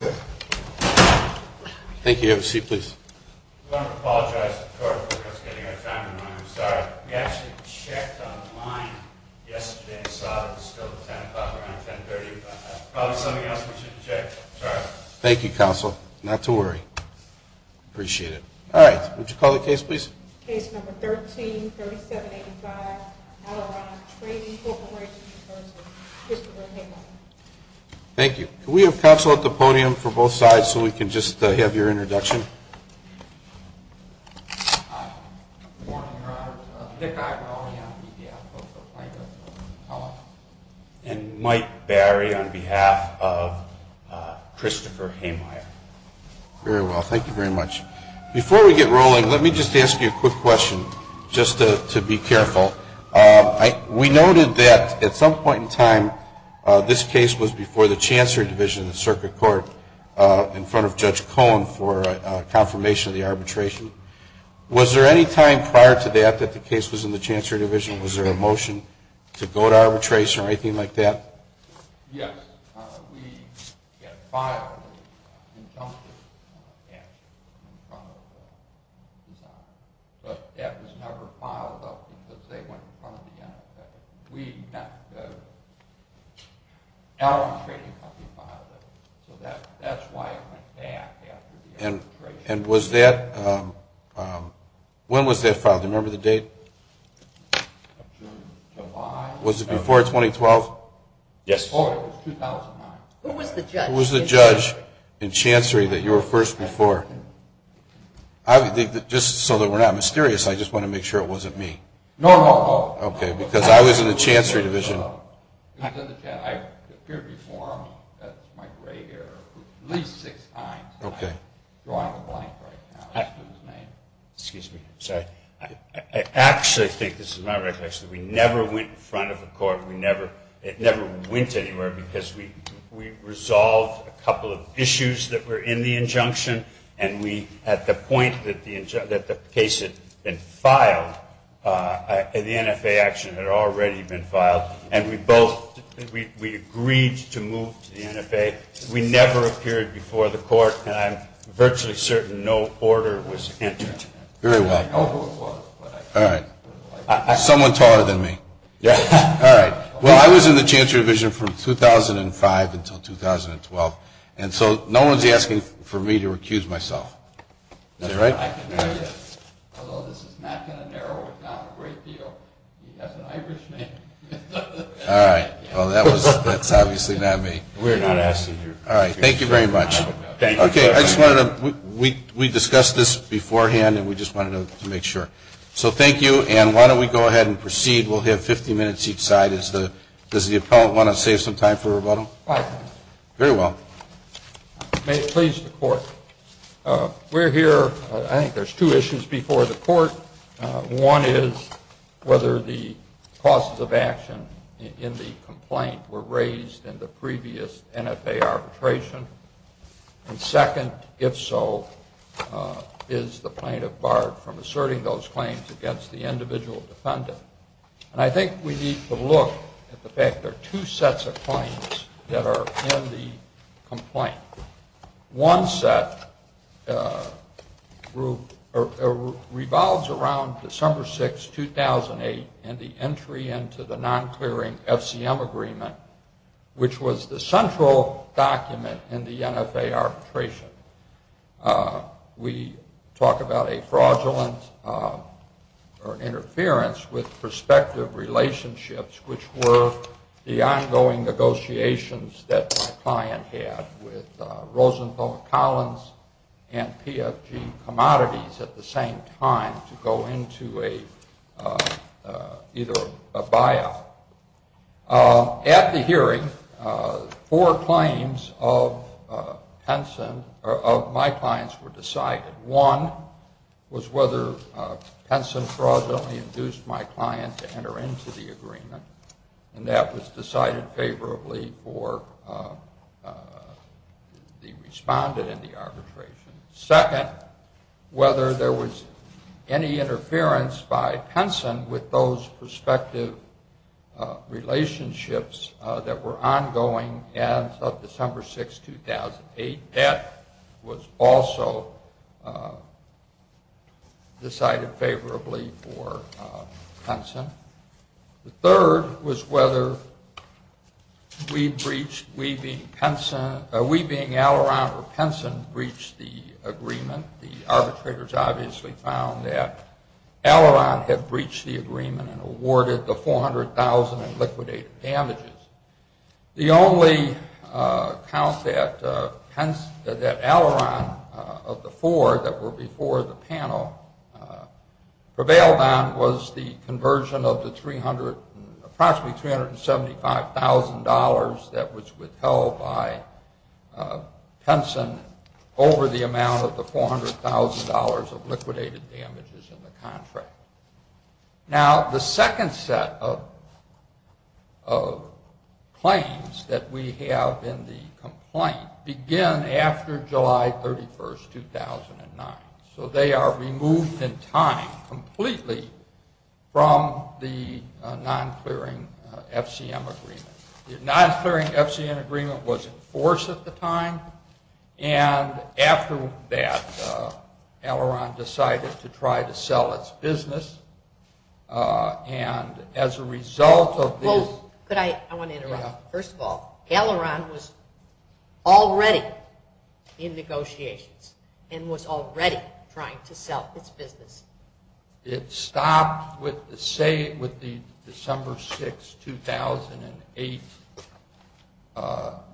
Thank you, counsel. Not to worry. Appreciate it. All right, would you call the case, please? Case No. 13-3785, Alaron Trading Corporation v. Mr. Van Haven. Thank you. Can we have counsel at the podium for both sides so we can just have your introduction? And Mike Barry on behalf of Christopher Hehmeyer. Very well. Thank you very much. Before we get rolling, let me just ask you a quick question, just to be careful. We noted that at some point in time this case was before the Chancellor's Division of the Circuit Court in front of Judge Cohen for confirmation of the arbitration. Was there any time prior to that that the case was in the Chancellor's Division? Was there a motion to go to arbitration or anything like that? Yes. We got a file from the Chancellor's Division in front of us. But that was never filed up until they went in front of us. We met with Alaron Trading Corporation and filed it up. So that's why I'm going to ask you to go to arbitration. And was that, when was that filed? Do you remember the date? June, July. Was it before 2012? Yes. Who was the judge in Chancery that you were first before? Just so that we're not mysterious, I just want to make sure it wasn't me. Normal. Okay, because I was in the Chancery Division. I've appeared before at my gray area at least six times. Okay. So I'm blank right now. Excuse me. Sorry. I actually think this is my right question. We never went in front of the court. We never went anywhere because we resolved a couple of issues that were in the injunction. At the point that the patient had filed, an NFA action had already been filed, and we both agreed to move to the NFA. We never appeared before the court, and I'm virtually certain no order was entered. Very well. All right. Someone's harder than me. Yes. All right. Well, I was in the Chancery Division from 2005 until 2012. And so no one's asking for me to recuse myself. Is that right? Although this is not going to narrow it down a great deal. All right. Well, that's obviously not me. We're not asking you. All right. Thank you very much. Okay. We discussed this beforehand, and we just wanted to make sure. So thank you, and why don't we go ahead and proceed. We'll have 50 minutes each side. Does the appellant want to save some time for rebuttal? Very well. May it please the court. We're here. I think there's two issues before the court. One is whether the causes of action in the complaint were raised in the previous NFA arbitration. And second, if so, is the plaintiff barred from asserting those claims against the individual defendant. And I think we need to look at the fact there are two sets of claims that are in the complaint. One set revolves around December 6, 2008, and the entry into the non-clearing FCM agreement, which was the central document in the NFA arbitration. We talk about a fraudulent or interference with prospective relationships, which were the ongoing negotiations that my client had with Rosenthal, Collins, and PFG Commodities at the same time to go into either a buyout. At the hearing, four claims of my clients were decided. One was whether Penson fraud only induced my client to enter into the agreement, and that was decided favorably for the respondent in the arbitration. Second, whether there was any interference by Penson with those prospective relationships that were ongoing as of December 6, 2008. That was also decided favorably for Penson. The third was whether we, being Alleron or Penson, breached the agreement. The arbitrators obviously found that Alleron had breached the agreement and awarded the $400,000 in liquidated damages. The only count that Alleron of the four that were before the panel prevailed on was the conversion of the approximately $375,000 that was withheld by Penson over the amount of the $400,000 of liquidated damages in the contract. Now, the second set of claims that we have in the complaint began after July 31, 2009. So they are removed in time completely from the non-clearing FCM agreement. The non-clearing FCM agreement was enforced at the time, and after that, Alleron decided to try to sell its business. And as a result of this— I want to interrupt. First of all, Alleron was already in negotiations and was already trying to sell its business. It stopped with the December 6, 2008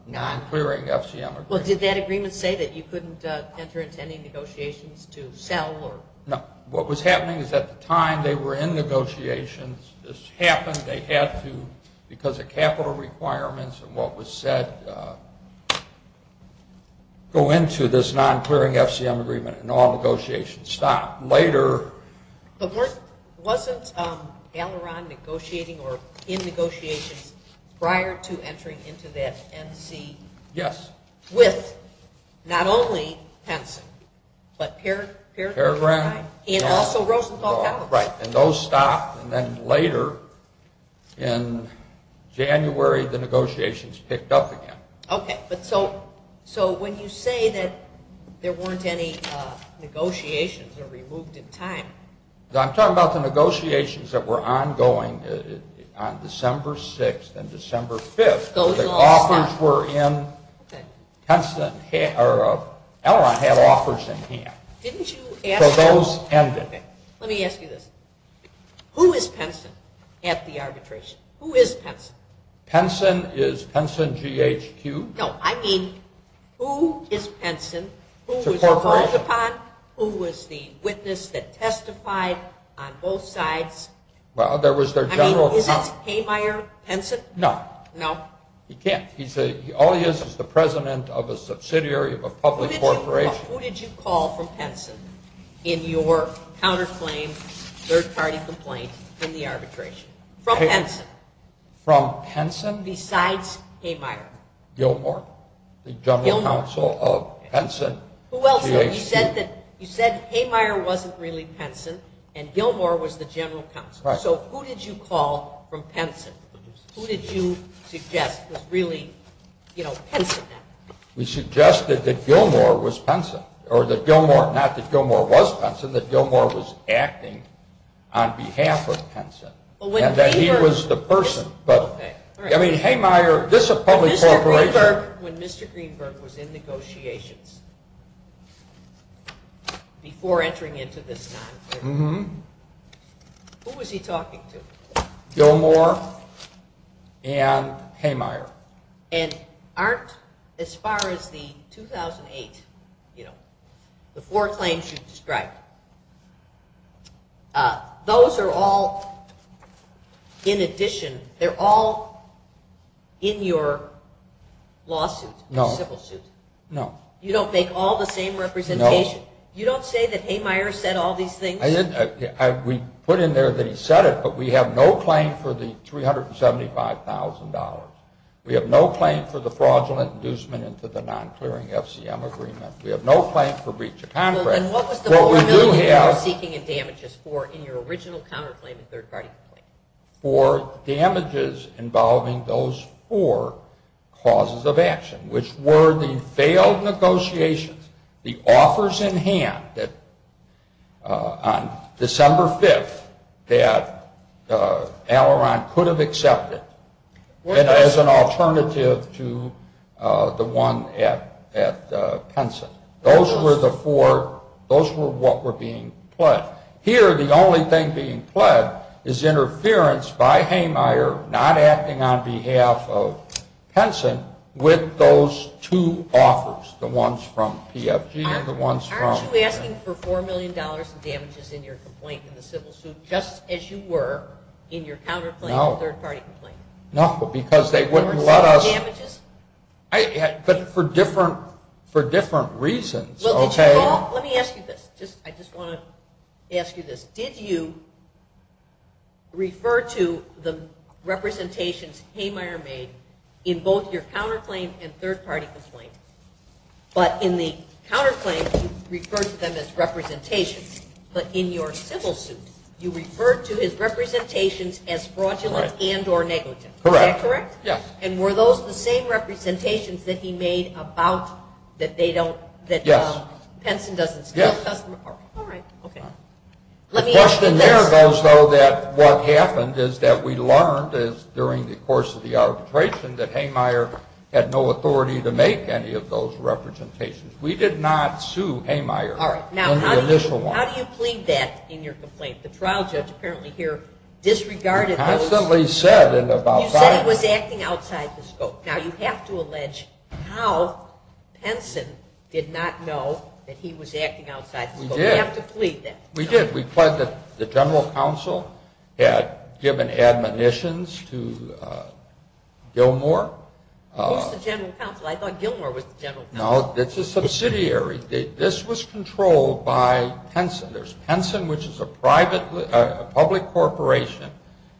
non-clearing FCM agreement. Well, did that agreement say that you couldn't enter into any negotiations to sell? No. What was happening is at the time they were in negotiations, this happened. They had to, because of capital requirements and what was said, go into this non-clearing FCM agreement and all negotiations stopped. Later— But wasn't Alleron negotiating or in negotiations prior to entering into that MC? Yes. With not only Penson, but Peregrine and also Rosenthal Capital? Right, and those stopped. And then later, in January, the negotiations picked up again. Okay. So when you say that there weren't any negotiations or removed in time— I'm talking about the negotiations that were ongoing on December 6th and December 5th. The offers were in—Alleron had offers in hand. So those ended. Okay, let me ask you this. Who is Penson at the arbitration? Who is Penson? Penson is Penson VHQ. No, I mean, who is Penson? Who was called upon? Who was the witness that testified on both sides? Well, there was their general— I mean, is that Haymeier Penson? No. No? He can't. All he is is the president of a subsidiary of a public corporation. Who did you call from Penson in your counterclaim, third-party complaint from the arbitration? From Penson. From Penson? Besides Haymeier. Gilmour? Gilmour. The general counsel of Penson? Well, you said Haymeier wasn't really Penson, and Gilmour was the general counsel. Right. So who did you call from Penson? Who did you suggest was really, you know, Penson? We suggested that Gilmour was Penson, or that Gilmour—not that Gilmour was Penson, that Gilmour was acting on behalf of Penson, and that he was the person. But, I mean, Haymeier—this is a public corporation. Mr. Greenberg, when Mr. Greenberg was in negotiations, before entering into this, who was he talking to? Gilmour and Haymeier. And aren't, as far as the 2008, you know, the four claims you described, those are all, in addition, they're all in your lawsuit, civil suit. No. You don't make all the same representations? No. You don't say that Haymeier said all these things? We put in there that he said it, but we have no claim for the $375,000. We have no claim for the fraudulent inducement into the non-clearing FCM agreement. We have no claim for breach of contract. Well, then what was the— What we do have— —you were speaking in damages for in your original counterclaim in Third Crisis? For damages involving those four causes of action, which were the failed negotiations, the offers in hand on December 5th that Alleron could have accepted, and as an alternative to the one at Henson. Those were the four, those were what were being pledged. Here, the only thing being pledged is interference by Haymeier, not acting on behalf of Henson, with those two offers, the ones from PFG, the ones from— Aren't you asking for $4 million in damages in your complaint in the civil suit, just as you were in your counterclaim in Third Crisis? No. No, because they wouldn't let us— For damages. But for different reasons, okay? Let me ask you this. I just want to ask you this. Did you refer to the representations Haymeier made in both your counterclaim and third-party complaints? But in the counterclaims, you referred to them as representations. But in your civil suit, you referred to his representations as fraudulent and or negligent. Correct. Is that correct? Yes. And were those the same representations that he made about that they don't— Yes. That Henson doesn't— Yes. All right. Okay. Let me ask you— The question there goes, though, that what happened is that we learned, as during the course of the arbitration, that Haymeier had no authority to make any of those representations. We did not sue Haymeier in the initial one. All right. Now, how do you claim that in your complaint? The trial judge apparently here disregarded— Constantly said in about five minutes— —that he was acting outside the scope. Now, you have to allege how Henson did not know that he was acting outside the scope. We did. We have to plead that. We did. We pled that the general counsel had given admonitions to Gilmour. It was the general counsel. I thought Gilmour was the general counsel. No. It's a subsidiary. This was controlled by Henson. There's Henson, which is a public corporation,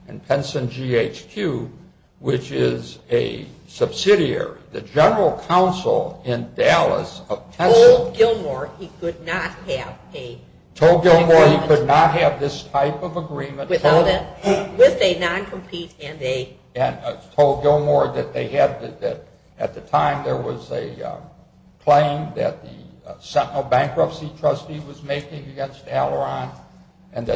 and Henson GHQ, which is a subsidiary. The general counsel in Dallas of Henson— —told Gilmour he could not have a— —told Gilmour he could not have this type of agreement— —with a non-complete and a— —and told Gilmour that they had— —and that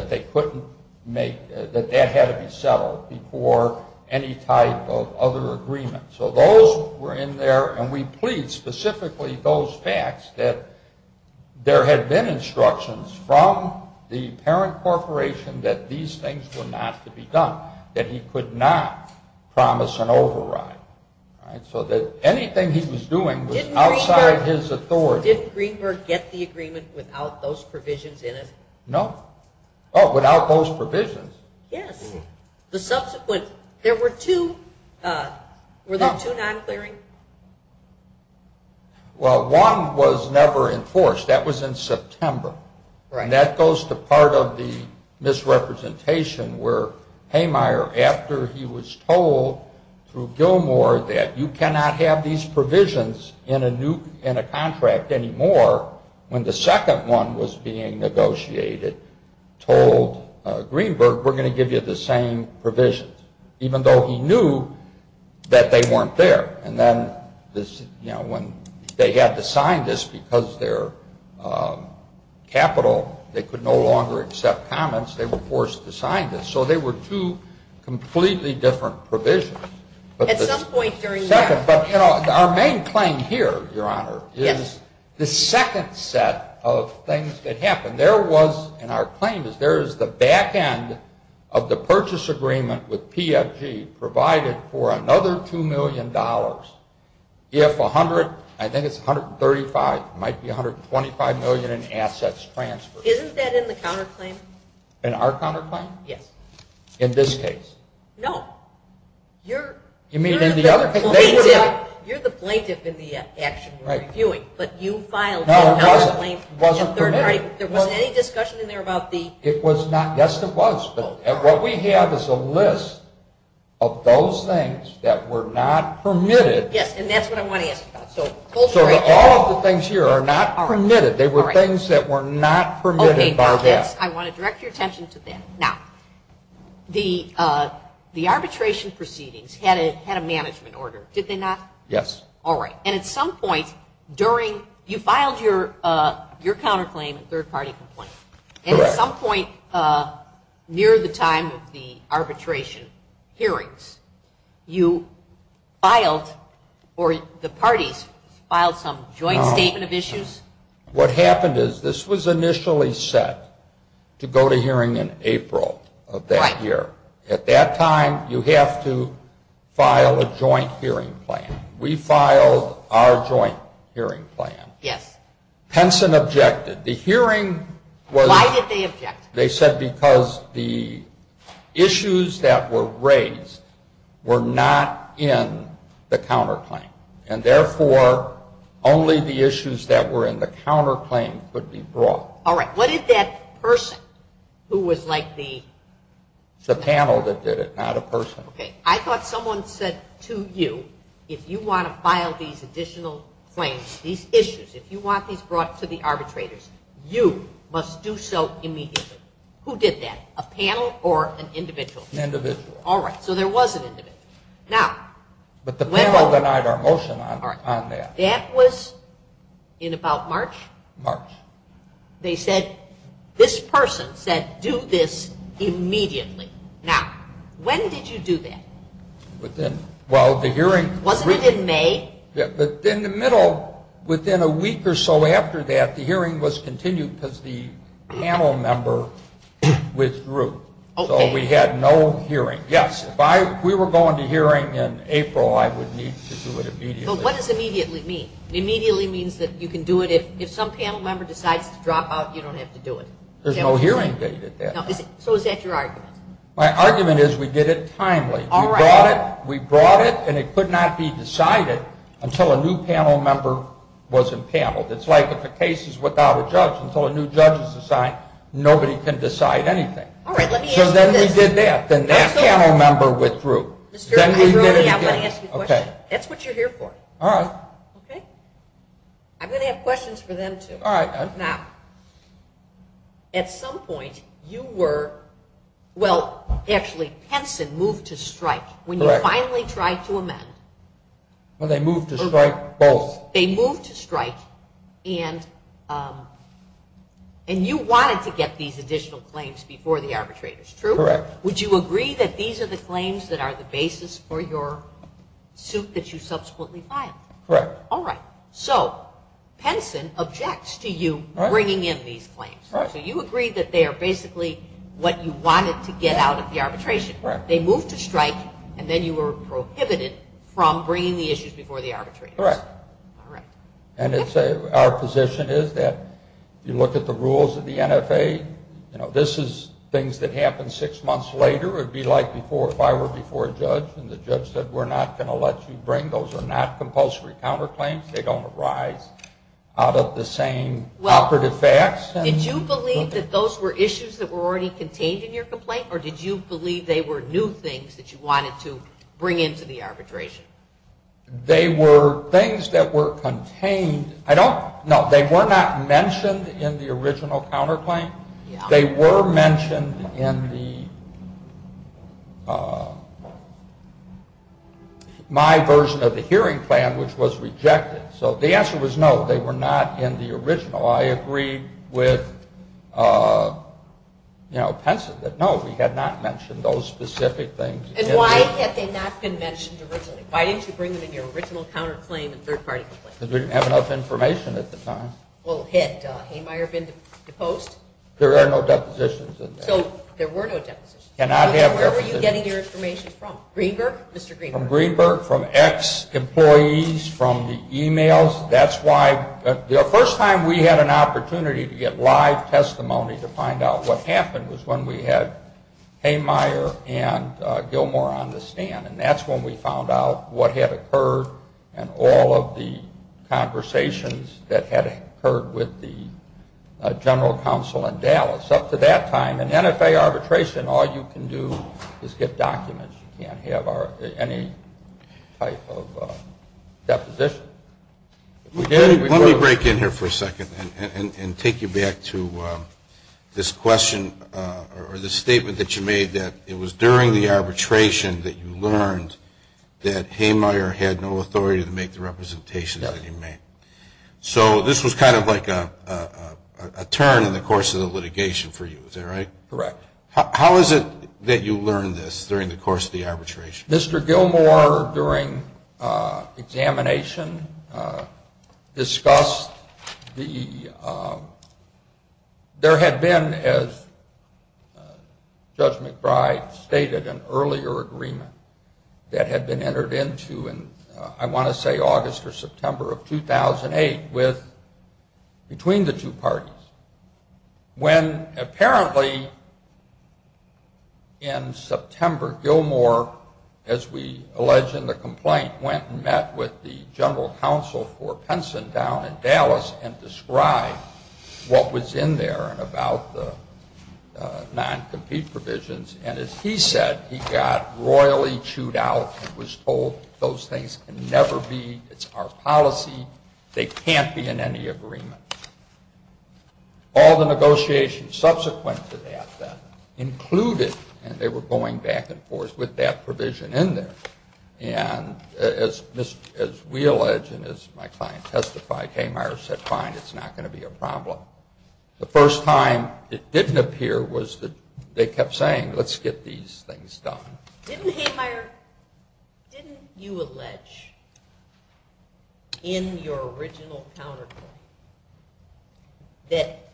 they couldn't make— —that that had to be settled before any type of other agreement. So those were in there, and we plead specifically those facts that— —there had been instructions from the parent corporation that these things were not to be done. That he could not promise an override. So that anything he was doing was outside his authority. So did Greenberg get the agreement without those provisions in it? No. Oh, without those provisions? Yes. The subsequent— —there were two— —were there two non-clearings? Well, one was never enforced. That was in September. And that goes to part of the misrepresentation where Haymire, after he was told through Gilmour that you cannot have these provisions in a contract anymore, when the second one was being negotiated, told Greenberg, we're going to give you the same provisions, even though he knew that they weren't there. And then when they had to sign this because their capital, they could no longer accept comments, they were forced to sign this. So they were two completely different provisions. At some point during that— But our main claim here, Your Honor, is the second set of things that happened. There was—and our claim is there is the back end of the purchase agreement with PFP provided for another $2 million if 100—I think it's 135, it might be $125 million in assets transferred. Isn't that in the counterclaim? In our counterclaim? Yes. In this case? No. You're— You mean in the other case? You're the plaintiff in the action. But you filed a counterclaim. No, I wasn't. It wasn't permitted. There wasn't any discussion in there about the— It was not. Yes, there was, though. And what we have is a list of those things that were not permitted. Yes, and that's what I want to ask you about. So all of the things here are not permitted. They were things that were not permitted by them. I want to direct your attention to that. Now, the arbitration proceedings had a management order, did they not? Yes. All right. And at some point during—you filed your counterclaim, a third-party complaint. And at some point near the time of the arbitration hearings, you filed—or the parties filed some joint statement of issues. What happened is this was initially set to go to hearing in April of that year. Right. At that time, you have to file a joint hearing plan. We filed our joint hearing plan. Yes. Henson objected. The hearing was— Why did they object? They said because the issues that were raised were not in the counterclaim, and therefore only the issues that were in the counterclaim could be brought. All right. What did that person who was like the— The panel that did it, not a person. Okay. I thought someone said to you, if you want to file these additional claims, these issues, if you want these brought to the arbitrators, you must do so immediately. Who did that? A panel or an individual? Individual. All right. So there was an individual. But the panel denied our motion on that. That was in about March? March. They said, this person said do this immediately. Now, when did you do that? Within—well, the hearing— Was it in May? In the middle, within a week or so after that, the hearing was continued because the panel member withdrew. Okay. So we had no hearing. Yes. If we were going to hearing in April, I would need to do it immediately. But what does immediately mean? Immediately means that you can do it if some panel member decides to drop out, you don't have to do it. There's no hearing date at that. So is that your argument? My argument is we did it timely. We brought it, and it could not be decided until a new panel member was empaneled. It's like if a case is without a judge, until a new judge is assigned, nobody can decide anything. All right. So then we did that. Then that panel member withdrew. Then we did it again. I want to ask you a question. That's what you're here for. All right. Okay? I'm going to have questions for them, too. All right. Now, at some point, you were—well, actually, Henson moved to strike when you finally tried to amend. Well, they moved to strike both. They moved to strike, and you wanted to get these additional claims before the arbitrators, true? Correct. Would you agree that these are the claims that are the basis for your suit that you subsequently filed? Correct. All right. So Henson objects to you bringing in these claims. So you agree that they are basically what you wanted to get out of the arbitration. Correct. They moved to strike, and then you were prohibited from bringing the issues before the arbitrators. Correct. Correct. Our position is that you look at the rules of the NFA. This is things that happen six months later. It would be like if I were before a judge, and the judge said, we're not going to let you bring. Those are not compulsory counterclaims. They don't arise out of the same operative facts. Did you believe that those were issues that were already contained in your complaint, or did you believe they were new things that you wanted to bring into the arbitration? They were things that were contained. No, they were not mentioned in the original counterclaim. They were mentioned in my version of the hearing plan, which was rejected. So the answer was no, they were not in the original. I agreed with Henson that no, we had not mentioned those specific things. And why had they not been mentioned originally? Why didn't you bring them into your original counterclaim and third-party complaint? Because we didn't have enough information at the time. Well, had Haymeier been the post? There were no depositions in there. So there were no depositions. Where were you getting your information from? Greenberg? From Greenberg, from ex-employees, from the e-mails. That's why the first time we had an opportunity to get live testimony to find out what happened was when we had Haymeier and Gilmore on the stand, and that's when we found out what had occurred and all of the conversations that had occurred with the general counsel in Dallas. Up to that time, in NFA arbitration, all you can do is get documents. You can't have any type of deposition. Let me break in here for a second and take you back to this question or this statement that you made that it was during the arbitration that you learned that Haymeier had no authority to make the representations that he made. So this was kind of like a turn in the course of the litigation for you, is that right? Correct. How is it that you learned this during the course of the arbitration? Mr. Gilmore, during examination, discussed the— there had been, as Judge McBride stated, an earlier agreement that had been entered into in, I want to say, August or September of 2008 between the two parties, when apparently in September, Gilmore, as we allege in the complaint, went and met with the general counsel for Hunson down in Dallas and described what was in there and about the non-compete provisions, and as he said, he got royally chewed out and was told, those things can never be, it's our policy, they can't be in any agreement. All the negotiations subsequent to that then included, and they were going back and forth with that provision in there, and as we allege and as my client testified, Haymeier said, fine, it's not going to be a problem. The first time it didn't appear was that they kept saying, let's get these things done. Didn't Haymeier, didn't you allege in your original counterpoint that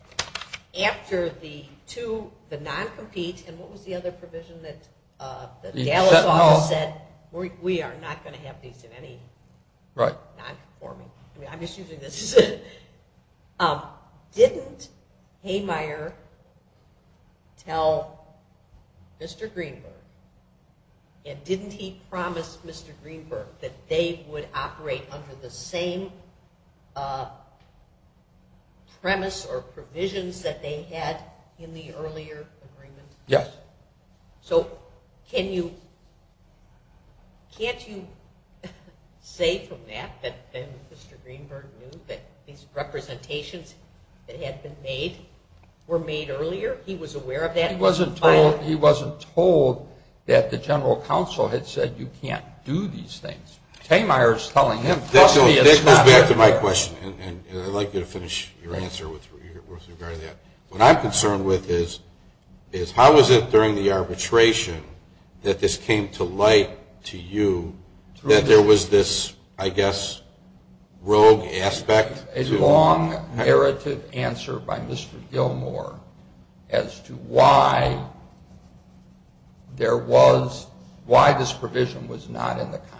after the two, the non-compete, and what was the other provision that the general counsel said, we are not going to have these in any non-conformal, I'm just using this, didn't Haymeier tell Mr. Greenberg and didn't he promise Mr. Greenberg that they would operate under the same premise or provisions that they had in the earlier agreement? Yes. So can you, can't you say from that that Mr. Greenberg knew that these representations that had been made were made earlier, he was aware of that? He wasn't told that the general counsel had said you can't do these things. Haymeier is telling him, trust me, it's not fair. Let's go back to my question, and I'd like you to finish your answer with regard to that. What I'm concerned with is how was it during the arbitration that this came to light to you that there was this, I guess, rogue aspect to it? A long narrative answer by Mr. Gilmour as to why there was, why this provision was not in the contract.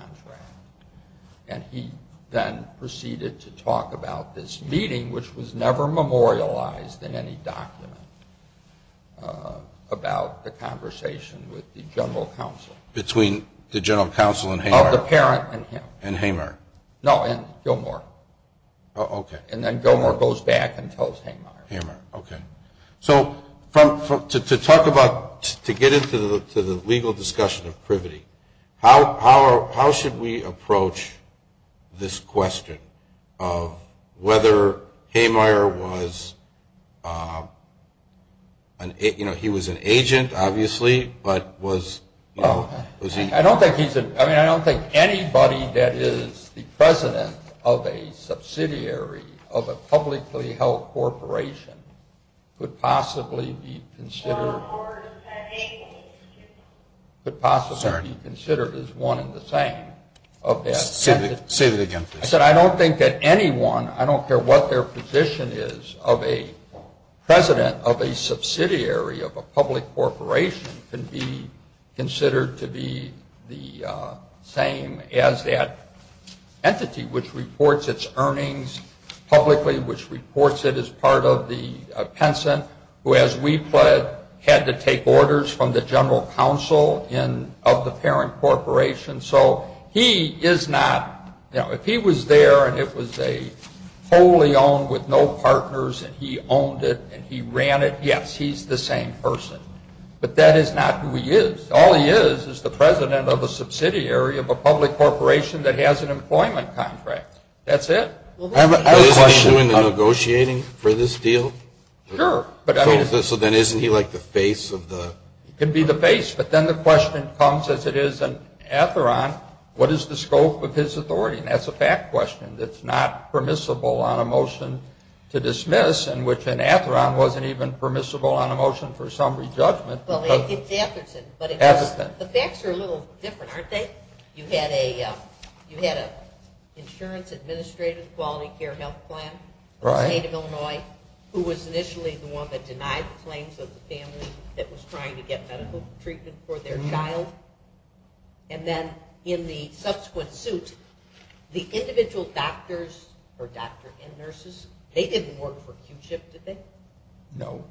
And he then proceeded to talk about this meeting, which was never memorialized in any document, about the conversation with the general counsel. Between the general counsel and Haymeier? Oh, the parent and him. And Haymeier? No, and Gilmour. Okay. And then Gilmour goes back and tells Haymeier. Haymeier, okay. So to talk about, to get into the legal discussion of privity, how should we approach this question of whether Haymeier was, you know, he was an agent, obviously, but was he? I don't think anybody that is the president of a subsidiary of a publicly held corporation could possibly be considered as one in the same of that. I said I don't think that anyone, I don't care what their position is, of a president of a subsidiary of a public corporation can be considered to be the same as that entity, which reports its earnings publicly, which reports it as part of the pension, who, as we pled, had to take orders from the general counsel of the parent corporation. So he is not, you know, if he was there and it was a wholly owned with no partners, and he owned it and he ran it, yes, he's the same person. But that is not who he is. All he is is the president of a subsidiary of a public corporation that has an employment contract. That's it. Is he doing the negotiating for this deal? Sure. So then isn't he like the face of the? He can be the face, but then the question comes, as it is in Atheron, what is the scope of this authority? And that's a fact question that's not permissible on a motion to dismiss, and which in Atheron wasn't even permissible on a motion for some re-judgment. Well, it's Atherton, but the facts are a little different, aren't they? You had an insurance administrative quality care health plan made in Illinois, who was initially the one that denied the claims of the family that was trying to get medical treatment for their child. And then in the subsequent suit, the individual doctors or doctors and nurses, they didn't work for Q-Chip, did they? No.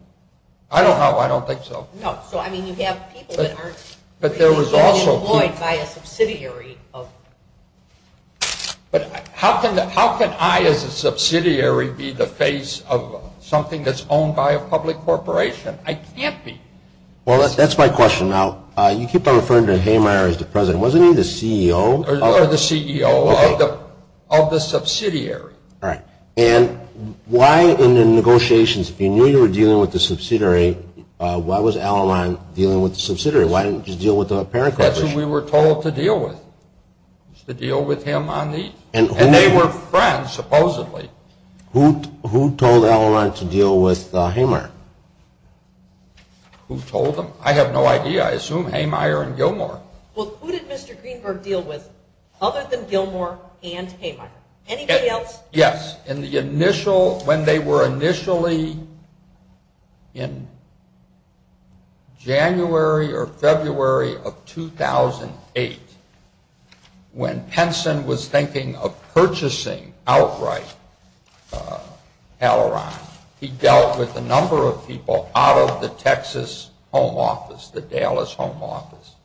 I don't know. I don't think so. No. So, I mean, you have people that aren't employed by a subsidiary of. But how can I, as a subsidiary, be the face of something that's owned by a public corporation? I can't be. Well, that's my question. Now, you keep on referring to Hamire as the president. Wasn't he the CEO? Or the CEO of the subsidiary. Right. And why in the negotiations, if you knew you were dealing with the subsidiary, why was Al-Aman dealing with the subsidiary? Why didn't you just deal with the parent corporation? Because that's who we were told to deal with, to deal with him on these. And they were friends, supposedly. Who told Al-Aman to deal with Hamire? Who told him? I have no idea. I assume Hamire and Gilmore. Well, who did Mr. Greenberg deal with other than Gilmore and Hamire? Anybody else? Well, yes. In the initial, when they were initially in January or February of 2008, when Penson was thinking of purchasing outright Al-Aman, he dealt with a number of people out of the Texas home office, the Dallas home office.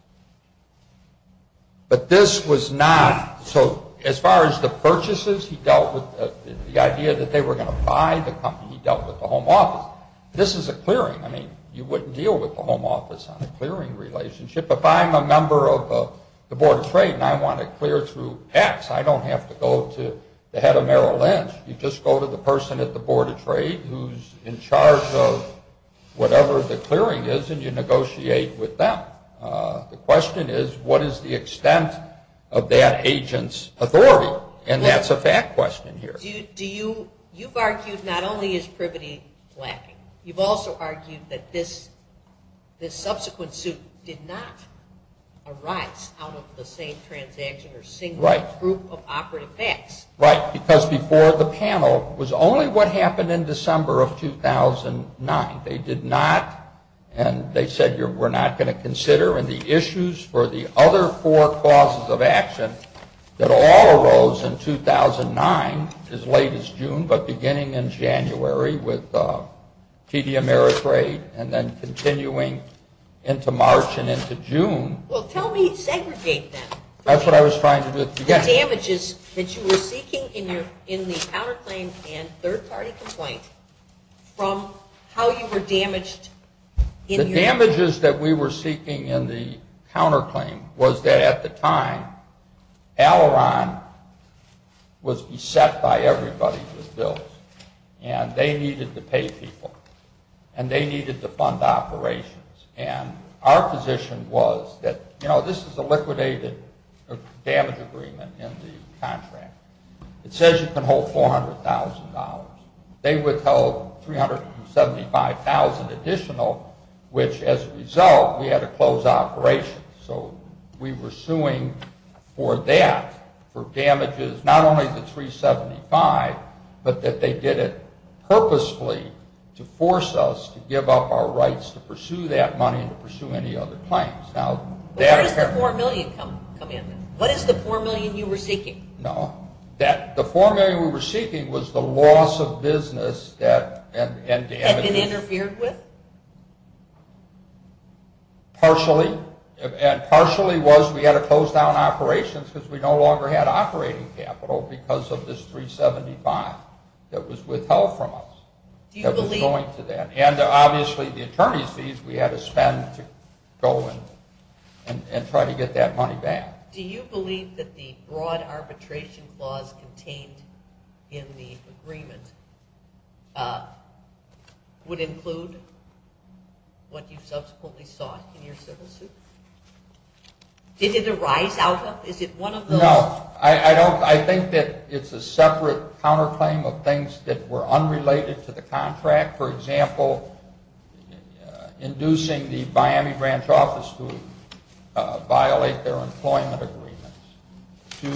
But this was not, so as far as the purchases, he dealt with the idea that they were going to buy the company. He dealt with the home office. This is a clearing. I mean, you wouldn't deal with the home office on a clearing relationship. If I'm a member of the Board of Trade and I want to clear through PACs, I don't have to go to the head of Merrill Lynch. You just go to the person at the Board of Trade who's in charge of whatever the clearing is, and you negotiate with them. The question is, what is the extent of that agent's authority? And that's a fact question here. You've argued not only is privity lacking, you've also argued that this subsequent suit did not arise out of the same transaction or single group of operative facts. Right, because before the panel was only what happened in December of 2009. They did not, and they said we're not going to consider, and the issues were the other four causes of action that all arose in 2009, as late as June, but beginning in January with TD Ameritrade and then continuing into March and into June. Well, tell me, segregate them. That's what I was trying to do. The damages that you were seeking in the counterclaim and third-party complaint from how you were damaged in the- The damages that we were seeking in the counterclaim was that at the time, Alleron was beset by everybody's bills, and they needed to pay people, and they needed to fund operations, and our position was that, you know, this is a liquidated damage agreement in the contract. It says you can hold $400,000. They withheld $375,000 additional, which as a result, we had to close operations. So we were suing for that, for damages, not only the $375,000, but that they did it purposely to force us to give up our rights to pursue that money and to pursue any other claims. Where did the $4 million come in? What is the $4 million you were seeking? No, the $4 million we were seeking was the loss of business that- Had been interfered with? Partially, and partially was we had to close down operations because we no longer had operating capital because of this $375,000 that was withheld from us. Do you believe- And obviously the attorney sees we had to spend, go, and try to get that money back. Do you believe that the broad arbitration clause contained in the agreement would include what you subsequently sought in your civil suit? Did it arise out of- No. I think that it's a separate counterclaim of things that were unrelated to the contract. For example, inducing the Miami Branch office to violate their employment agreements to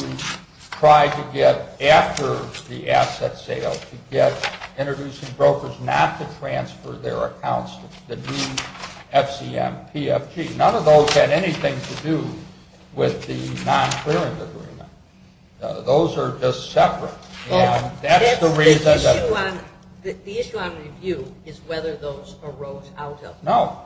try to get, after the asset sale, to get introducing brokers not to transfer their accounts to the DFCM PFG. None of those had anything to do with the non-clearance agreement. Those are just separate. And that's the reason- The issue I'm going to do is whether those arose out of- No.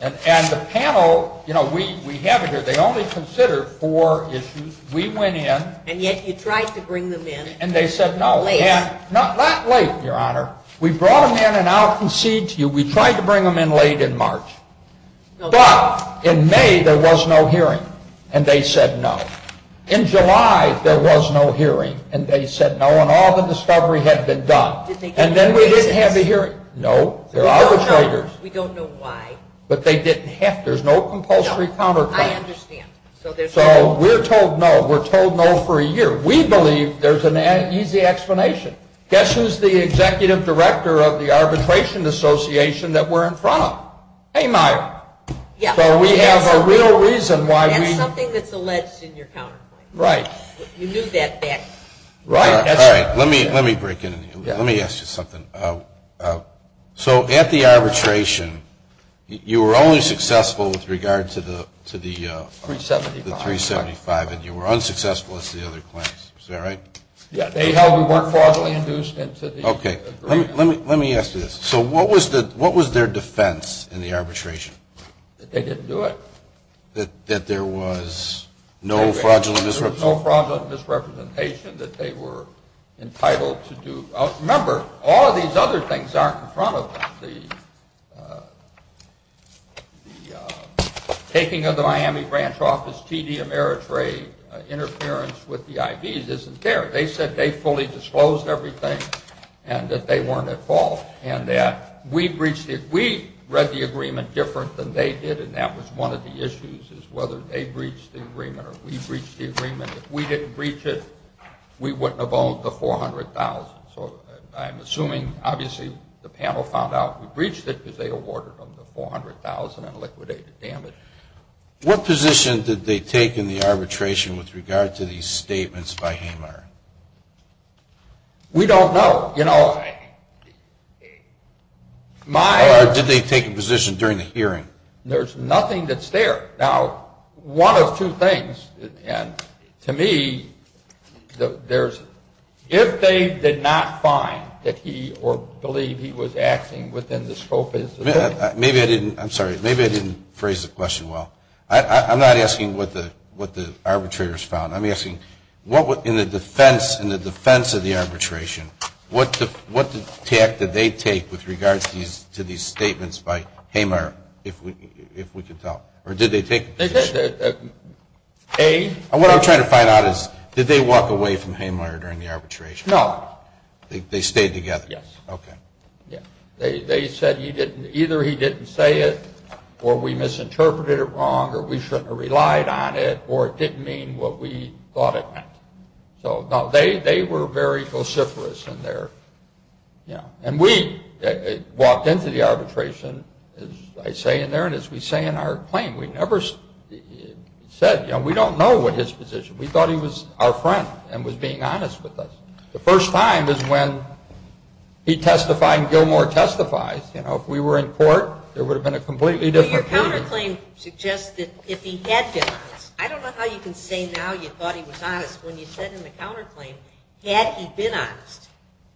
And the panel, you know, we have it here. They only considered four issues. We went in- And yet you tried to bring them in- And they said no. Late. Not late, Your Honor. We brought them in and I'll concede to you, we tried to bring them in late in March, but in May there was no hearing and they said no. In July there was no hearing and they said no, and all the discovery had been done. And then we didn't have the hearing. No. They're arbitrators. We don't know why. But they didn't have- There's no compulsory counterclaims. No. I understand. So there's no- So we're told no. We're told no for a year. We believe there's an easy explanation. Guess who's the executive director of the arbitration association that we're in front of? Hey, Mike. Yeah. So we have a real reason why we- And there's nothing that's alleged in your counterclaim. Right. You use that fact. Right. All right. Let me break in. Let me ask you something. So at the arbitration, you were only successful with regard to the- 375. The 375, and you were unsuccessful at the other claims. Is that right? Yeah. They held we weren't fraudulently induced. Okay. Let me ask you this. So what was their defense in the arbitration? That they didn't do it. That there was no fraudulent misrepresentation. No fraudulent misrepresentation that they were entitled to do. Remember, all of these other things aren't in front of them. The taking of the Miami branch office TD Ameritrade interference with the IDs isn't there. They said they fully disclosed everything and that they weren't at fault. And that we breached it. We read the agreement different than they did, and that was one of the issues, is whether they breached the agreement or we breached the agreement. If we didn't breach it, we wouldn't have owned the $400,000. So I'm assuming, obviously, the panel found out we breached it because they awarded them the $400,000 in liquidated damage. What position did they take in the arbitration with regard to these statements by Hamer? We don't know. Or did they take a position during the hearing? There's nothing that's there. Now, one of two things, and to me, if they did not find that he, or believe he was acting within the scope of his defense. I'm sorry. Maybe I didn't phrase the question well. I'm not asking what the arbitrators found. I'm asking, in the defense of the arbitration, what step did they take with regard to these statements by Hamer, if we could tell? Or did they pick? What I'm trying to find out is, did they walk away from Hamer during the arbitration? No. They stayed together? Yes. Okay. They said either he didn't say it, or we misinterpreted it wrong, or we shouldn't have relied on it, or it didn't mean what we thought it meant. Now, they were very vociferous in there. And we walked into the arbitration, as I say in there, and as we say in our claim. We never said, you know, we don't know his position. We thought he was our friend and was being honest with us. The first time is when he testified and Gilmour testified. If we were in court, there would have been a completely different case. The counterclaim suggests that if he had been honest. I don't know how you can say now you thought he was honest when you said in the counterclaim, had he been honest?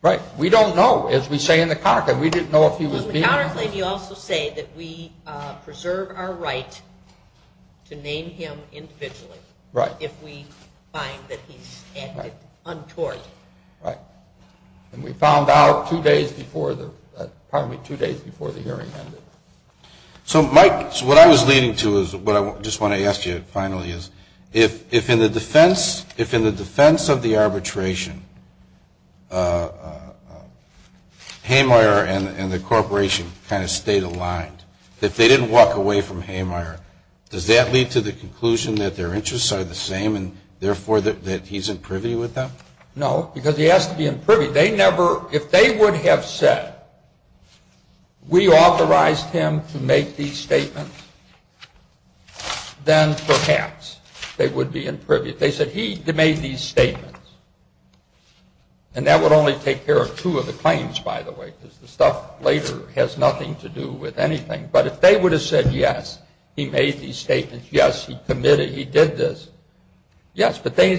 Right. We don't know, as we say in the counterclaim. We didn't know if he was being honest. In the counterclaim, you also say that we preserve our right to name him individually. Right. If we find that he's untoward. Right. And we found out two days before the hearing ended. So, Mike, what I was leading to is what I just want to ask you finally is, if in the defense of the arbitration, Haymire and the corporation kind of stayed aligned, if they didn't walk away from Haymire, does that lead to the conclusion that their interests are the same and, therefore, that he's imprivy with them? No, because he has to be imprivy. If they would have said, we authorized him to make these statements, then perhaps they would be imprivy. They said he made these statements. And that would only take care of two of the claims, by the way, because the stuff later has nothing to do with anything. But if they would have said, yes, he made these statements, yes, he committed, he did this, yes. But their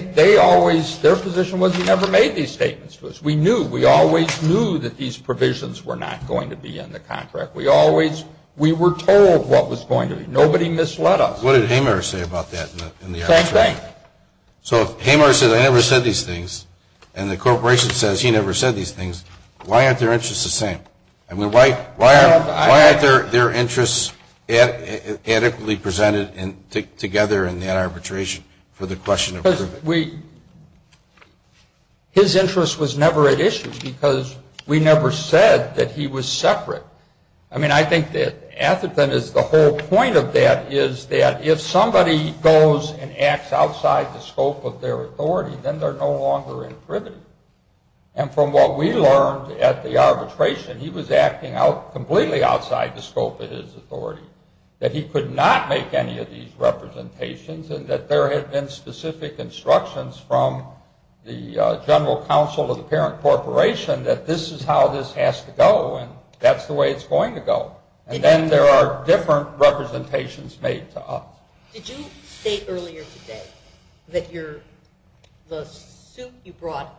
position was he never made these statements to us. We knew. We always knew that these provisions were not going to be in the contract. We were told what was going to be. Nobody misled us. What did Haymire say about that? Same thing. So, Haymire said, I never said these things. And the corporation says he never said these things. Why aren't their interests the same? I mean, why aren't their interests adequately presented together in the arbitration for the question of privy? His interest was never at issue because we never said that he was separate. I mean, I think the whole point of that is that if somebody goes and acts outside the scope of their authority, then they're no longer imprivy. And from what we learned at the arbitration, he was acting completely outside the scope of his authority, that he could not make any of these representations and that there had been specific instructions from the general counsel of the parent corporation that this is how this has to go and that's the way it's going to go. And then there are different representations made to us. Did you say earlier today that the suit you brought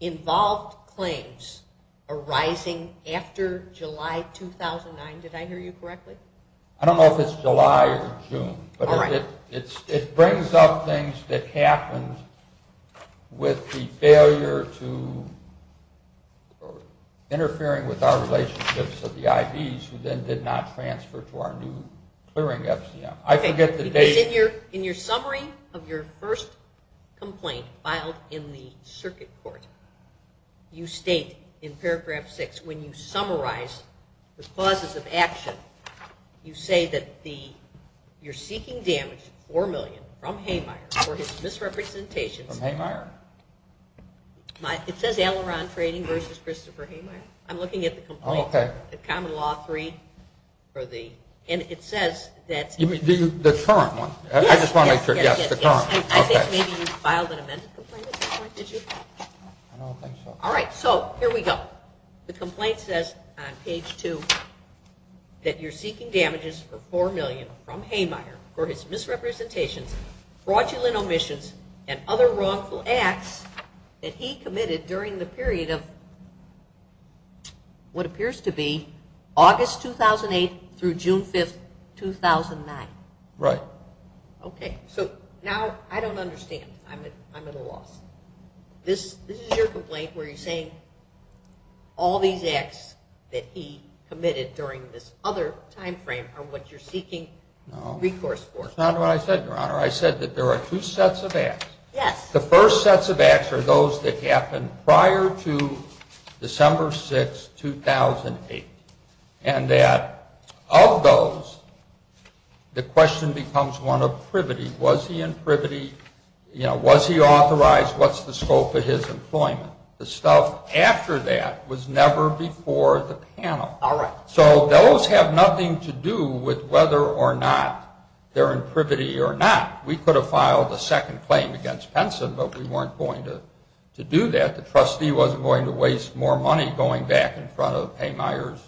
involved claims arising after July 2009? Did I hear you correctly? I don't know if it's July or June. But it brings up things that happened with the failure to interfering with our relationships with the IDs who then did not transfer to our new clearing FCM. In your summary of your first complaint filed in the circuit court, you state in paragraph six, when you summarize the clauses of action, you say that you're seeking damage, $4 million, from Haymeier for his misrepresentation. From Haymeier. It says Alaron Trading versus Christopher Haymeier. I'm looking at the complaint. Okay. The common law three for the, and it says that. The current one. Yes. The current one. Okay. I think maybe you filed an amended complaint. Did you? I don't think so. All right. So here we go. The complaint says on page two that you're seeking damages for $4 million from Haymeier for his misrepresentation, fraudulent omissions, and other wrongful acts that he committed during the period of what appears to be August 2008 through June 5, 2009. Right. Okay. So now I don't understand. I'm at a loss. This is your complaint where you're saying all these acts that he committed during this other timeframe are what you're seeking recourse for. No. It's not what I said, Your Honor. I said that there are two sets of acts. Yes. The first sets of acts are those that happened prior to December 6, 2008, and that of those, the question becomes one of privity. Was he in privity? You know, was he authorized? What's the scope of his employment? The stuff after that was never before the panel. All right. So those have nothing to do with whether or not they're in privity or not. We could have filed a second claim against PENSA, but we weren't going to do that. The trustee wasn't going to waste more money going back in front of Haymire's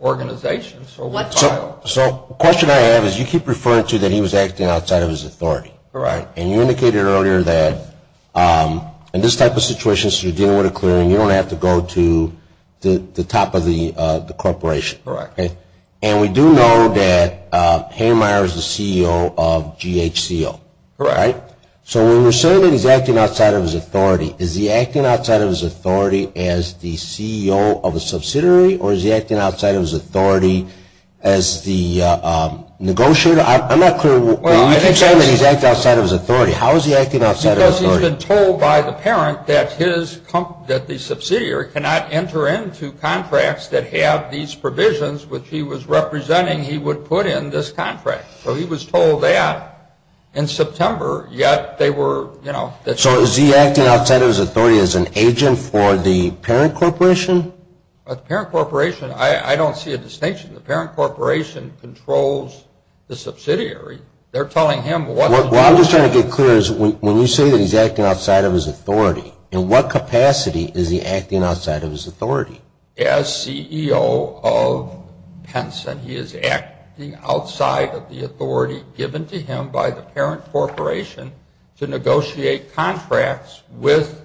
organization. So what filed? So the question I have is you keep referring to that he was acting outside of his authority. Right. And you indicated earlier that in this type of situation, so you're dealing with a clearing, you don't have to go to the top of the corporation. Correct. And we do know that Haymire is the CEO of GHCO. Right. So when you say that he's acting outside of his authority, is he acting outside of his authority as the CEO of a subsidiary, or is he acting outside of his authority as the negotiator? I'm not clear. You keep saying that he's acting outside of his authority. How is he acting outside of his authority? Because he's been told by the parent that the subsidiary cannot enter into contracts that have these provisions which he was representing he would put in this contract. So he was told that in September, yet they were, you know. So is he acting outside of his authority as an agent for the parent corporation? The parent corporation, I don't see a distinction. The parent corporation controls the subsidiary. They're telling him what. What I'm just trying to get clear is when you say that he's acting outside of his authority, in what capacity is he acting outside of his authority? He is acting as CEO of Tencent. He is acting outside of the authority given to him by the parent corporation to negotiate contracts with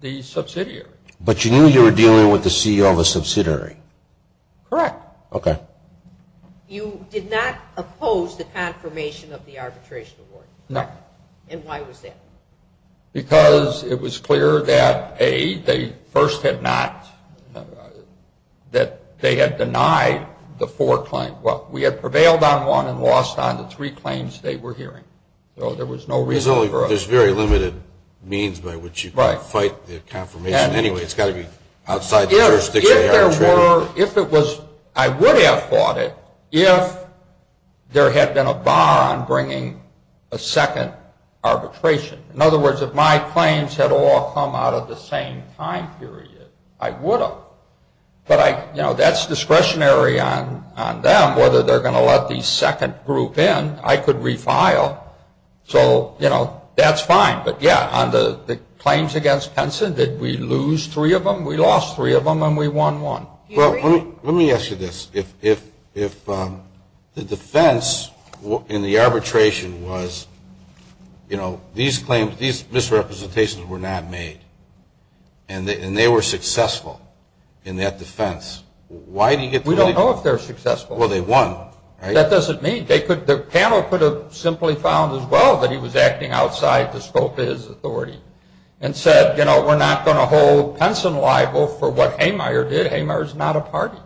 the subsidiary. But you knew you were dealing with the CEO of a subsidiary. Correct. Okay. You did not oppose the confirmation of the arbitration award. No. And why was that? Because it was clear that, A, they first had not, that they had denied the four claims. Well, we had prevailed on one and lost on the three claims they were hearing. So there was no reason for it. There's very limited means by which you can fight the confirmation. Anyway, it's got to be outside the jurisdiction of the arbitration. I would have fought it if there had been a bar on bringing a second arbitration. In other words, if my claims had all come out of the same time period, I would have. But that's discretionary on them whether they're going to let the second group in. I could refile. So that's fine. But, yeah, on the claims against Tencent, did we lose three of them? We lost three of them and we won one. Well, let me ask you this. If the defense in the arbitration was, you know, these misrepresentations were not made and they were successful in that defense, why do you get the claim? We don't know if they're successful. Well, they won, right? That doesn't mean. The panel could have simply found as well that he was acting outside the scope of his authority and said, you know, we're not going to hold Tencent liable for what Haymeier did. Haymeier is not a party.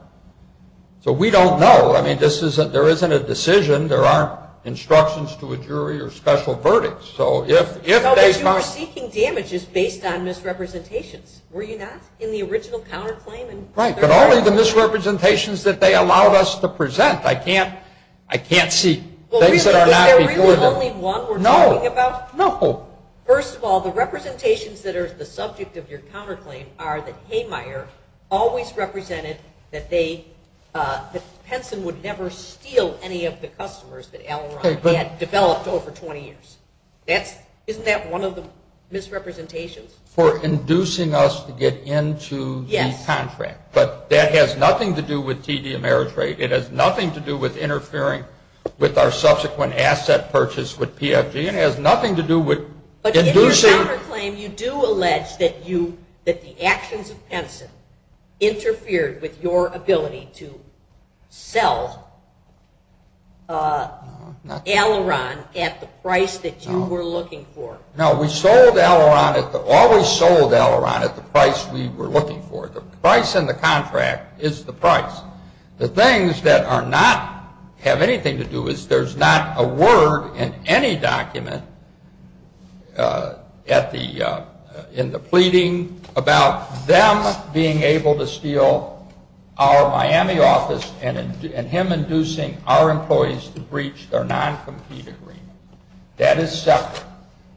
So we don't know. I mean, there isn't a decision. There aren't instructions to a jury or special verdicts. So if they've not. No, but you are taking damages based on misrepresentations. Were you not in the original counterclaim? Right, but only the misrepresentations that they allowed us to present. I can't see things that are not before them. Well, is that the only one we're talking about? No, no. First of all, the representations that are the subject of your counterclaim are that Haymeier always represented that they, that Tencent would never steal any of the customers that Allen had developed over 20 years. Isn't that one of the misrepresentations? For inducing us to get into the contract. But that has nothing to do with TD Ameritrade. It has nothing to do with interfering with our subsequent asset purchase with PFG. It has nothing to do with inducing. But in your counterclaim, you do allege that the actions of Tencent interfered with your ability to sell Aileron at the price that you were looking for. No, we sold Aileron, always sold Aileron at the price we were looking for. The price in the contract is the price. The things that are not, have anything to do with, there's not a word in any document at the, in the pleading about them being able to steal our Miami office and him inducing our employees to breach their non-competed remit. That is separate.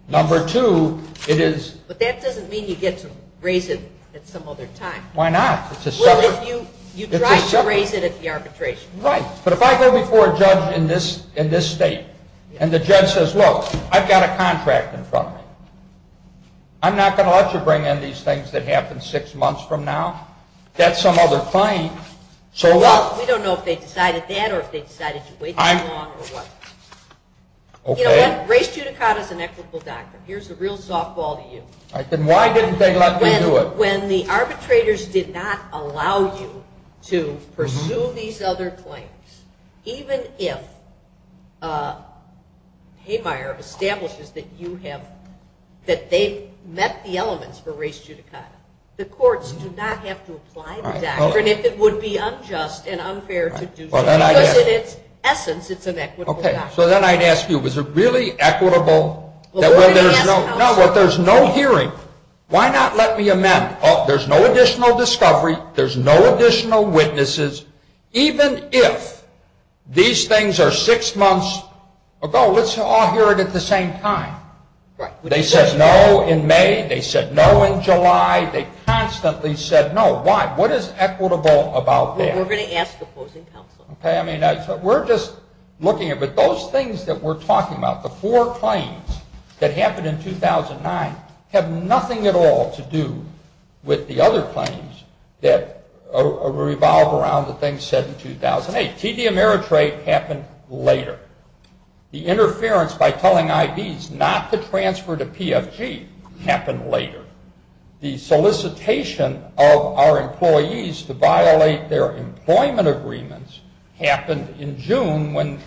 Number two, it is... But that doesn't mean you get some raisins at some other time. Why not? It's a separate... Well, if you, you try to raise it at the arbitration. Right. But if I go before a judge in this, in this state, and the judge says, look, I've got a contract in front of me. I'm not going to let you bring in these things that happen six months from now. That's some other time. So... Well, we don't know if they decided that or if they decided to wait that long or what. Okay. You know what? Grace Judicata is an ethical doctor. Here's the real softball to you. Then why didn't they let me do it? When the arbitrators did not allow you to pursue these other claims, even if Haymeier establishes that you have, that they've met the elements for race judicata, the courts do not have to apply the statute. And if it would be unjust and unfair to do so, in its essence, it's an equitable statute. Okay. So then I'd ask you, is it really equitable? No, but there's no hearing. Why not let me amend? Oh, there's no additional discovery. There's no additional witnesses. Even if these things are six months ago, let's all hear it at the same time. They said no in May. They said no in July. They constantly said no. Why? What is equitable about that? We're going to ask the closing counsel. Okay. I mean, we're just looking at it. Those things that we're talking about, the four claims that happened in 2009, have nothing at all to do with the other claims that revolve around the things said in 2008. TD Ameritrade happened later. The interference by telling IDs not to transfer to PFG happened later. The solicitation of our employees to violate their employment agreements happened in June when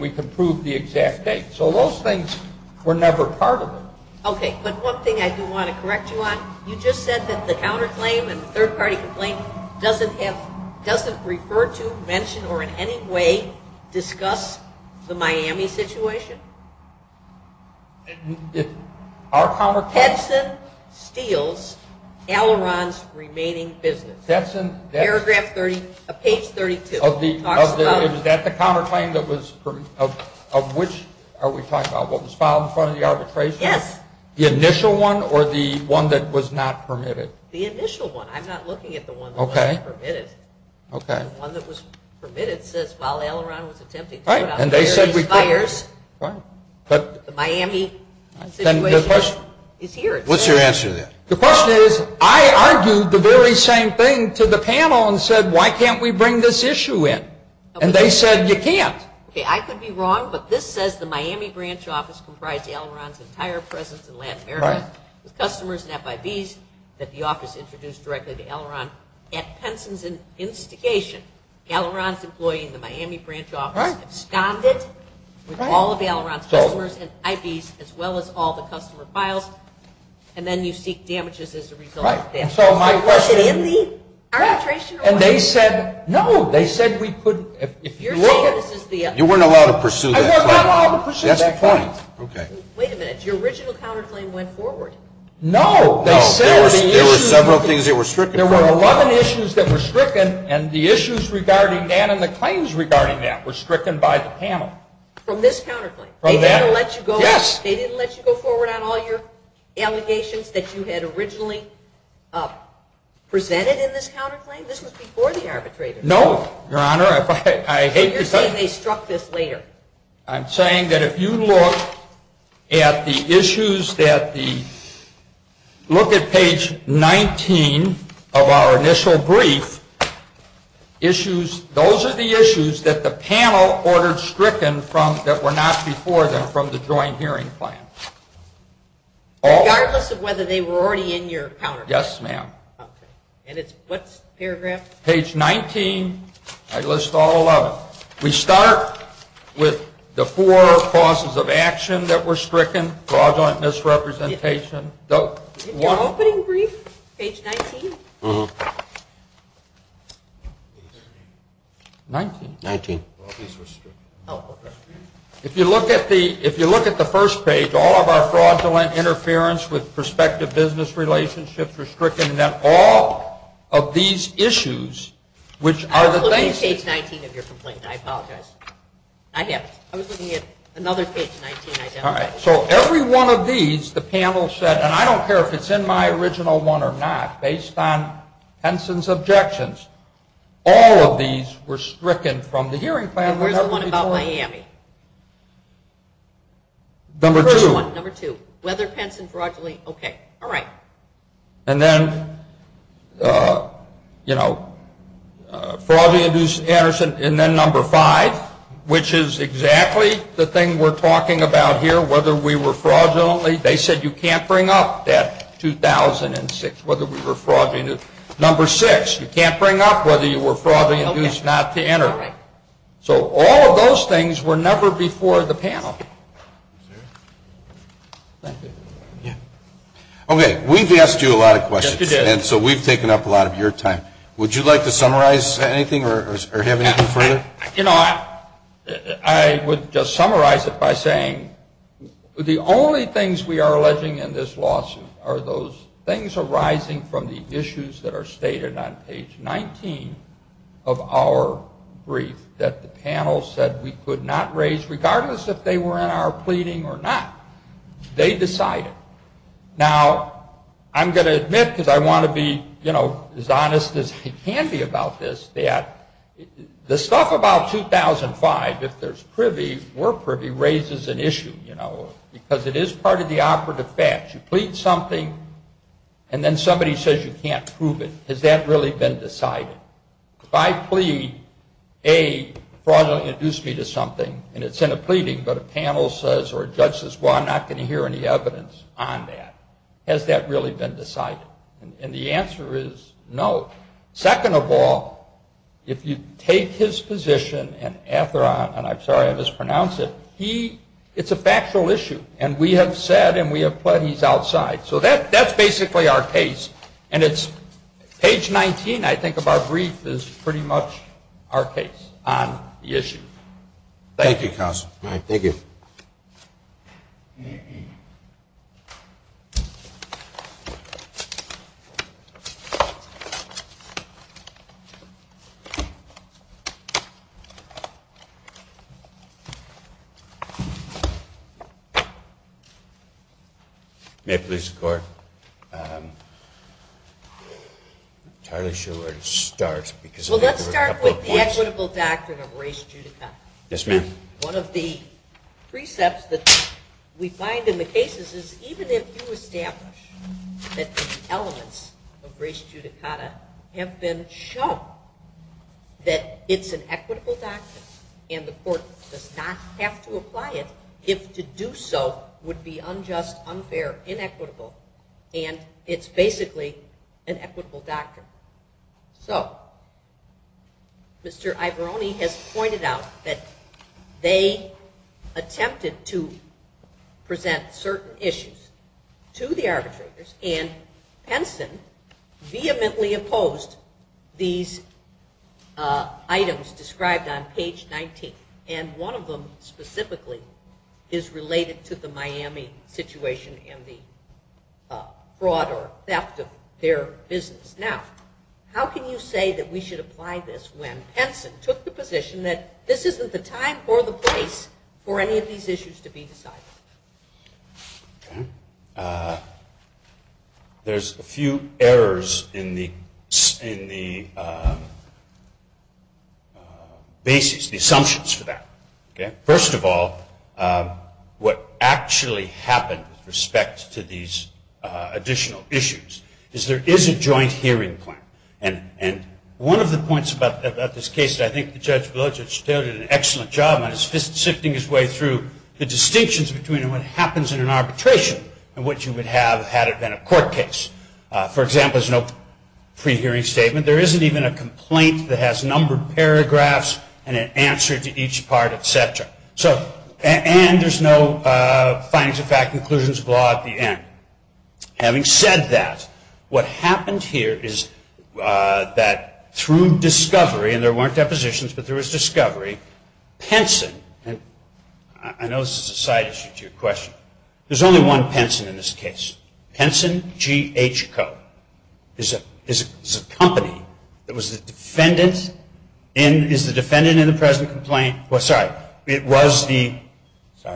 we can prove the exact date. So those things were never part of it. Okay. But one thing I do want to correct you on, you just said that the counterclaim and the third-party complaint doesn't refer to, mention, or in any way discuss the Miami situation. Our counterclaim? Tetson steals Al-Iran's remaining business. Paragraph 30 of page 35. Is that the counterclaim that was, of which are we talking about, what was filed in front of the arbitration? Yes. The initial one or the one that was not permitted? The initial one. I'm not looking at the one that was permitted. The one that was permitted says while Al-Iran was attempting to put out fires. And they said we couldn't. The Miami situation is here. What's your answer then? The question is, I argued the very same thing to the panel and said, why can't we bring this issue in? And they said you can't. Okay, I could be wrong, but this says the Miami branch office comprised Al-Iran's entire presence in Latin America. The customers and FIVs that the office introduced directly to Al-Iran at Tetson's instigation, Al-Iran's employee in the Miami branch office, stomped it with all of the Al-Iran customers and FIVs as well as all the customer files. And then you seek damages as a result of that. So my question is, and they said, no, they said we couldn't. You weren't allowed to pursue that claim. That's the point. Wait a minute. Your original counterclaim went forward. No. There were several things that were stricken. There were a lot of issues that were stricken, and the issues regarding that and the claims regarding that were stricken by the panel. From this counterclaim? Yes. They didn't let you go forward on all your allegations that you had originally presented in this counterclaim? This was before the arbitrators. No, Your Honor. I hate your... They struck this later. I'm saying that if you look at the issues that the... Look at page 19 of our initial brief. Issues... Those are the issues that the panel ordered stricken from that were not before them from the joint hearing plan. Regardless of whether they were already in your counterclaim? Yes, ma'am. Okay. And it's what paragraph? Page 19. I list all 11. We start with the four causes of action that were stricken, fraudulent misrepresentation. The opening brief, page 19. 19? 19. If you look at the first page, all of our fraudulent interference with prospective business relationships were stricken, suggesting that all of these issues, which are the... I was looking at page 19 of your complaint. I apologize. I was looking at another page 19. All right. So every one of these, the panel said, and I don't care if it's in my original one or not, based on Penson's objections, all of these were stricken from the hearing plan. Where's the one about Miami? Number two. Number two. Whether Penson fraudulently... Okay. All right. And then, you know, fraudulent abuse, and then number five, which is exactly the thing we're talking about here, whether we were fraudulently... They said you can't bring up that 2006, whether we were fraudulently... Number six. You can't bring up whether you were fraudulently abused not to enter. So all of those things were never before the panel. Thank you. Okay. We've asked you a lot of questions. Yes, we did. And so we've taken up a lot of your time. Would you like to summarize anything or have anything further? You know, I would just summarize it by saying the only things we are alleging in this lawsuit are those things arising from the issues that are stated on page 19 of our brief that the panel said we could not raise, regardless if they were in our pleading or not. They decided. Now, I'm going to admit, because I want to be, you know, as honest as I can be about this, that the stuff about 2005, if there's privy or privy, raises an issue, you know, because it is part of the operative facts. You plead something, and then somebody says you can't prove it. Has that really been decided? If I plead, A, fraud will induce me to something, and it's in a pleading, but a panel says or a judge says, well, I'm not going to hear any evidence on that. Has that really been decided? And the answer is no. Second of all, if you take his position, and Atheron, and I'm sorry I mispronounced it, it's a factual issue, and we have said and we have pled he's outside. So that's basically our case. And it's page 19, I think, of our brief is pretty much our case on the issue. Thank you, counsel. Thank you. Thank you. May I please record? I'm not entirely sure where to start. Well, let's start with the equitable facts of the race judicata. Yes, ma'am. One of the precepts that we find in the cases is even if you establish that the elements of race judicata have been shown, that it's an equitable document, and the court does not have to apply it, if to do so would be unjust, unfair, inequitable, and it's basically an equitable document. So, Mr. Iberoni has pointed out that they attempted to present certain issues to the arbitrators and Henson vehemently opposed these items described on page 19. And one of them specifically is related to the Miami situation and the fraud or theft of their business. Now, how can you say that we should apply this when Henson took the position that this isn't the time or the place for any of these issues to be decided? There's a few errors in the basis, the assumptions for that. First of all, what actually happened with respect to these additional issues is that there is a joint hearing point. And one of the points about this case that I think Judge Blodgett has done an excellent job on is sifting his way through the distinctions between what happens in an arbitration and what you would have had it been a court case. For example, there's no pre-hearing statement. There isn't even a complaint that has numbered paragraphs and an answer to each part, et cetera. And there's no findings of fact and conclusions of law at the end. Having said that, what happened here is that through discovery, and there weren't depositions, but there was discovery, Henson, and I know this is a side issue to your question, there's only one Henson in this case. Henson G. H. Coe is a company that was the defendant in the present complaint,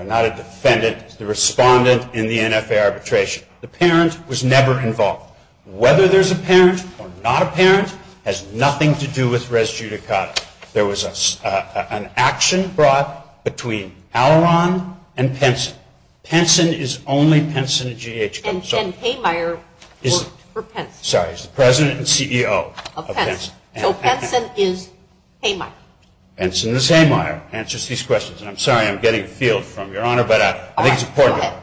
not a defendant, the respondent in the NFA arbitration. The parent was never involved. Whether there's a parent or not a parent has nothing to do with res judicata. There was an action brought between Alaron and Henson. Henson is only Henson G. H. Coe. And Haymeier worked for Henson. Sorry, he's the president and CEO of Henson. So Henson is Haymeier. Henson is Haymeier, answers these questions. And I'm sorry I'm getting a field from your Honor, but I think it's important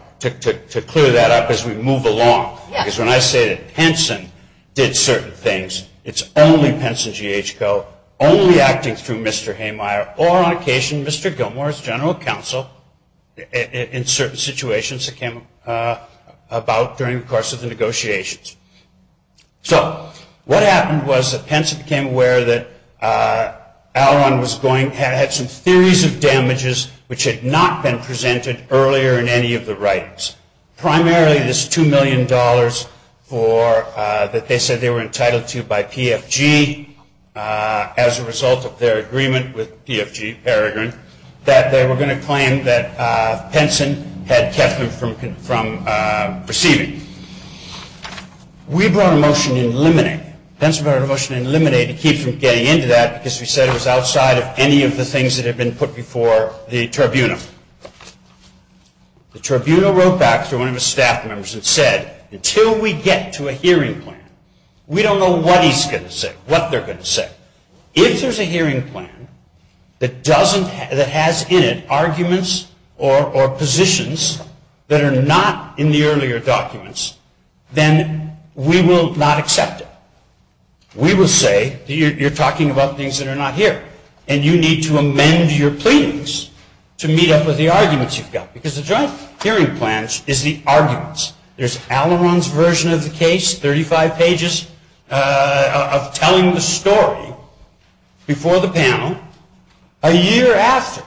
to clear that up as we move along. Because when I say that Henson did certain things, it's only Henson G. H. Coe, only acting through Mr. Haymeier or on occasion Mr. Gilmour's general counsel in certain situations that came about during the course of the negotiations. So what happened was that Henson became aware that Alaron was going to have some series of damages which had not been presented earlier in any of the writings. Primarily this $2 million that they said they were entitled to by PFG as a result of their agreement with PFG, that they were going to claim that Henson had judgment from receiving. We brought a motion to eliminate. Henson brought a motion to eliminate to keep from getting into that because we said it was outside of any of the things that had been put before the tribunal. The tribunal wrote back through one of his staff members and said, until we get to a hearing plan, we don't know what he's going to say, what they're going to say. If there's a hearing plan that has in it arguments or positions that are not in the earlier documents, then we will not accept it. We will say, you're talking about things that are not here, and you need to amend your pleadings to meet up with the arguments you've got. Because the joint hearing plan is the arguments. There's Alleron's version of the case, 35 pages of telling the story before the panel, a year after,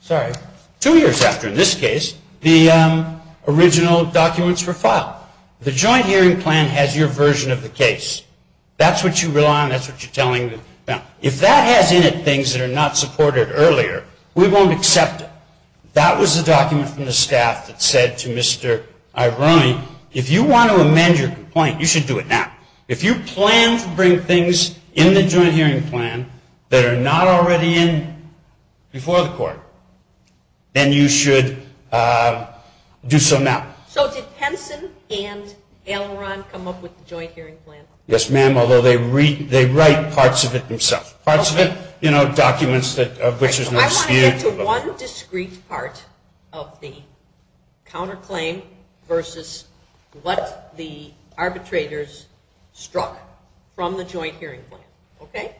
sorry, two years after, in this case, the original documents were filed. The joint hearing plan has your version of the case. That's what you rely on. That's what you're telling them. If that has in it things that are not supported earlier, we won't accept it. That was the document from the staff that said to Mr. Iberoni, if you want to amend your complaint, you should do it now. If you plan to bring things in the joint hearing plan that are not already in before the court, then you should do so now. So did Henson and Alleron come up with the joint hearing plan? Yes, ma'am, although they write parts of it themselves. Parts of it, you know, documents that are British and Australian. So one discrete part of the counterclaim versus what the arbitrators struck from the joint hearing plan. Okay?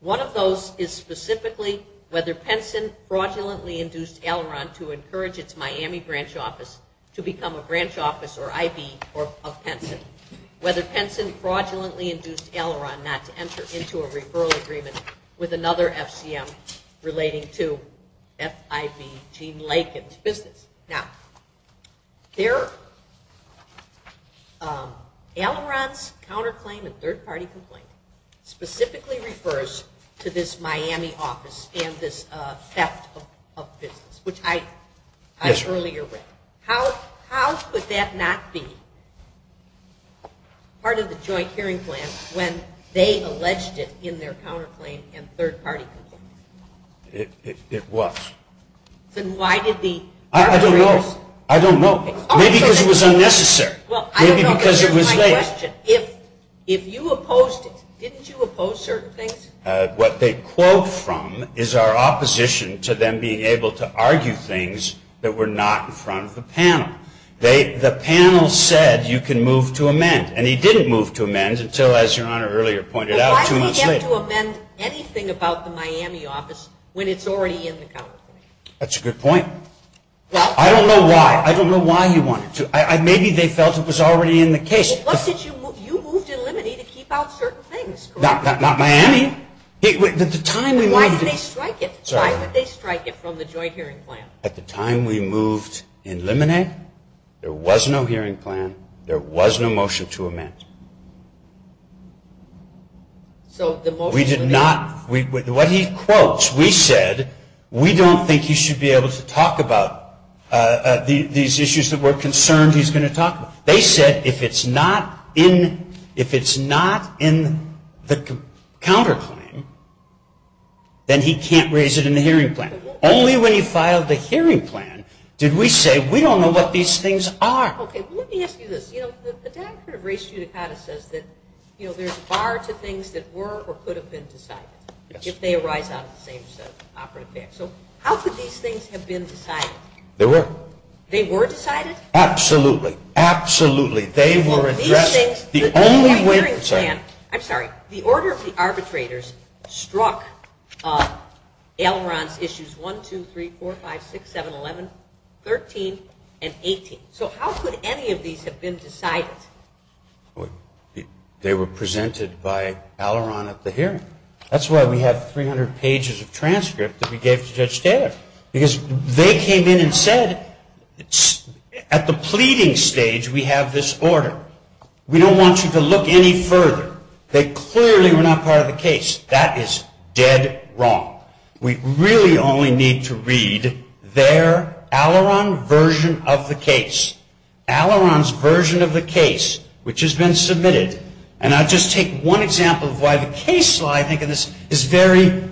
One of those is specifically whether Henson fraudulently induced Alleron to encourage its Miami branch office to become a branch office or IB of Henson, whether Henson fraudulently induced Alleron not to enter into a referral agreement with another FCM relating to FIB Gene Latham's business. Now, Alleron's counterclaim and third-party complaint specifically refers to this Miami office and this theft of business, which I was earlier with. How could that not be part of the joint hearing plan when they alleged it in their counterclaim and third-party complaint? It was. Then why did the- I don't know. I don't know. Maybe because it was unnecessary. Maybe because it was late. If you opposed it, didn't you oppose certain things? What they quote from is our opposition to them being able to argue things that were not in front of the panel. The panel said you can move to amend, and he didn't move to amend until, as Your Honor earlier pointed out, two months later. Why do you have to amend anything about the Miami office when it's already in the counterclaim? That's a good point. I don't know why. I don't know why you wanted to. Maybe they felt it was already in the case. It was that you moved to eliminate it to keep out certain things. Not Miami. The time and why- They strike it from the joint hearing plan. At the time we moved to eliminate, there was no hearing plan. There was no motion to amend. We did not- What he quotes, we said we don't think he should be able to talk about these issues that we're concerned he's going to talk about. They said if it's not in the counterclaim, then he can't raise it in the hearing plan. Only when he filed the hearing plan did we say we don't know what these things are. Okay. Let me ask you this. You know, the doctrine of res judicata says that there are two things that were or could have been decided, if they arise out of the same operative case. So how could these things have been decided? They were. They were decided? Absolutely. Absolutely. They were addressed- So these things- The only way- I'm sorry. The order of the arbitrators struck Aileron issues 1, 2, 3, 4, 5, 6, 7, 11, 13, and 18. So how could any of these have been decided? They were presented by Aileron at the hearing. That's why we have 300 pages of transcript that we gave to Judge Dayle. Because they came in and said, at the pleading stage, we have this order. We don't want you to look any further. They clearly were not part of the case. That is dead wrong. We really only need to read their Aileron version of the case. Aileron's version of the case, which has been submitted, and I'll just take one example of why the case law, I think, is very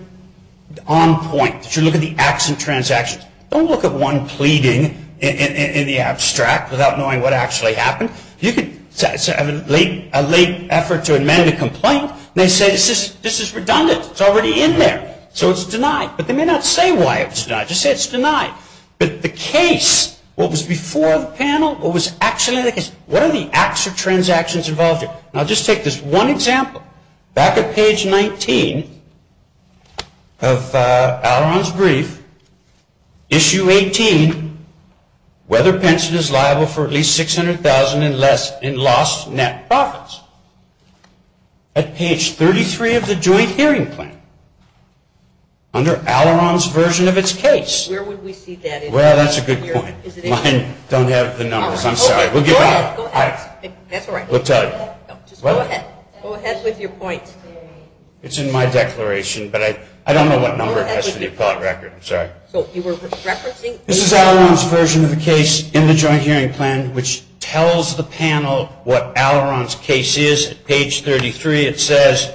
on point. If you look at the acts and transactions, don't look at one pleading in the abstract without knowing what actually happened. A late effort to amend a complaint, and they say, this is redundant. It's already in there. So it's denied. But they may not say why it's denied. Just say it's denied. But the case, what was before the panel, what was actually in the case, what are the acts or transactions involved in? I'll just take this one example. Back at page 19 of Aileron's brief, issue 18, whether pension is liable for at least $600,000 in lost net profits. At page 33 of the jury hearing plan, under Aileron's version of its case. Where would we see that? Well, that's a good point. Mine don't have the numbers. I'm sorry. That's all right. We'll tell you. Go ahead. Go ahead with your point. It's in my declaration. But I don't know what number it has in your court record. I'm sorry. This is Aileron's version of the case in the jury hearing plan, which tells the panel what Aileron's case is. Page 33, it says,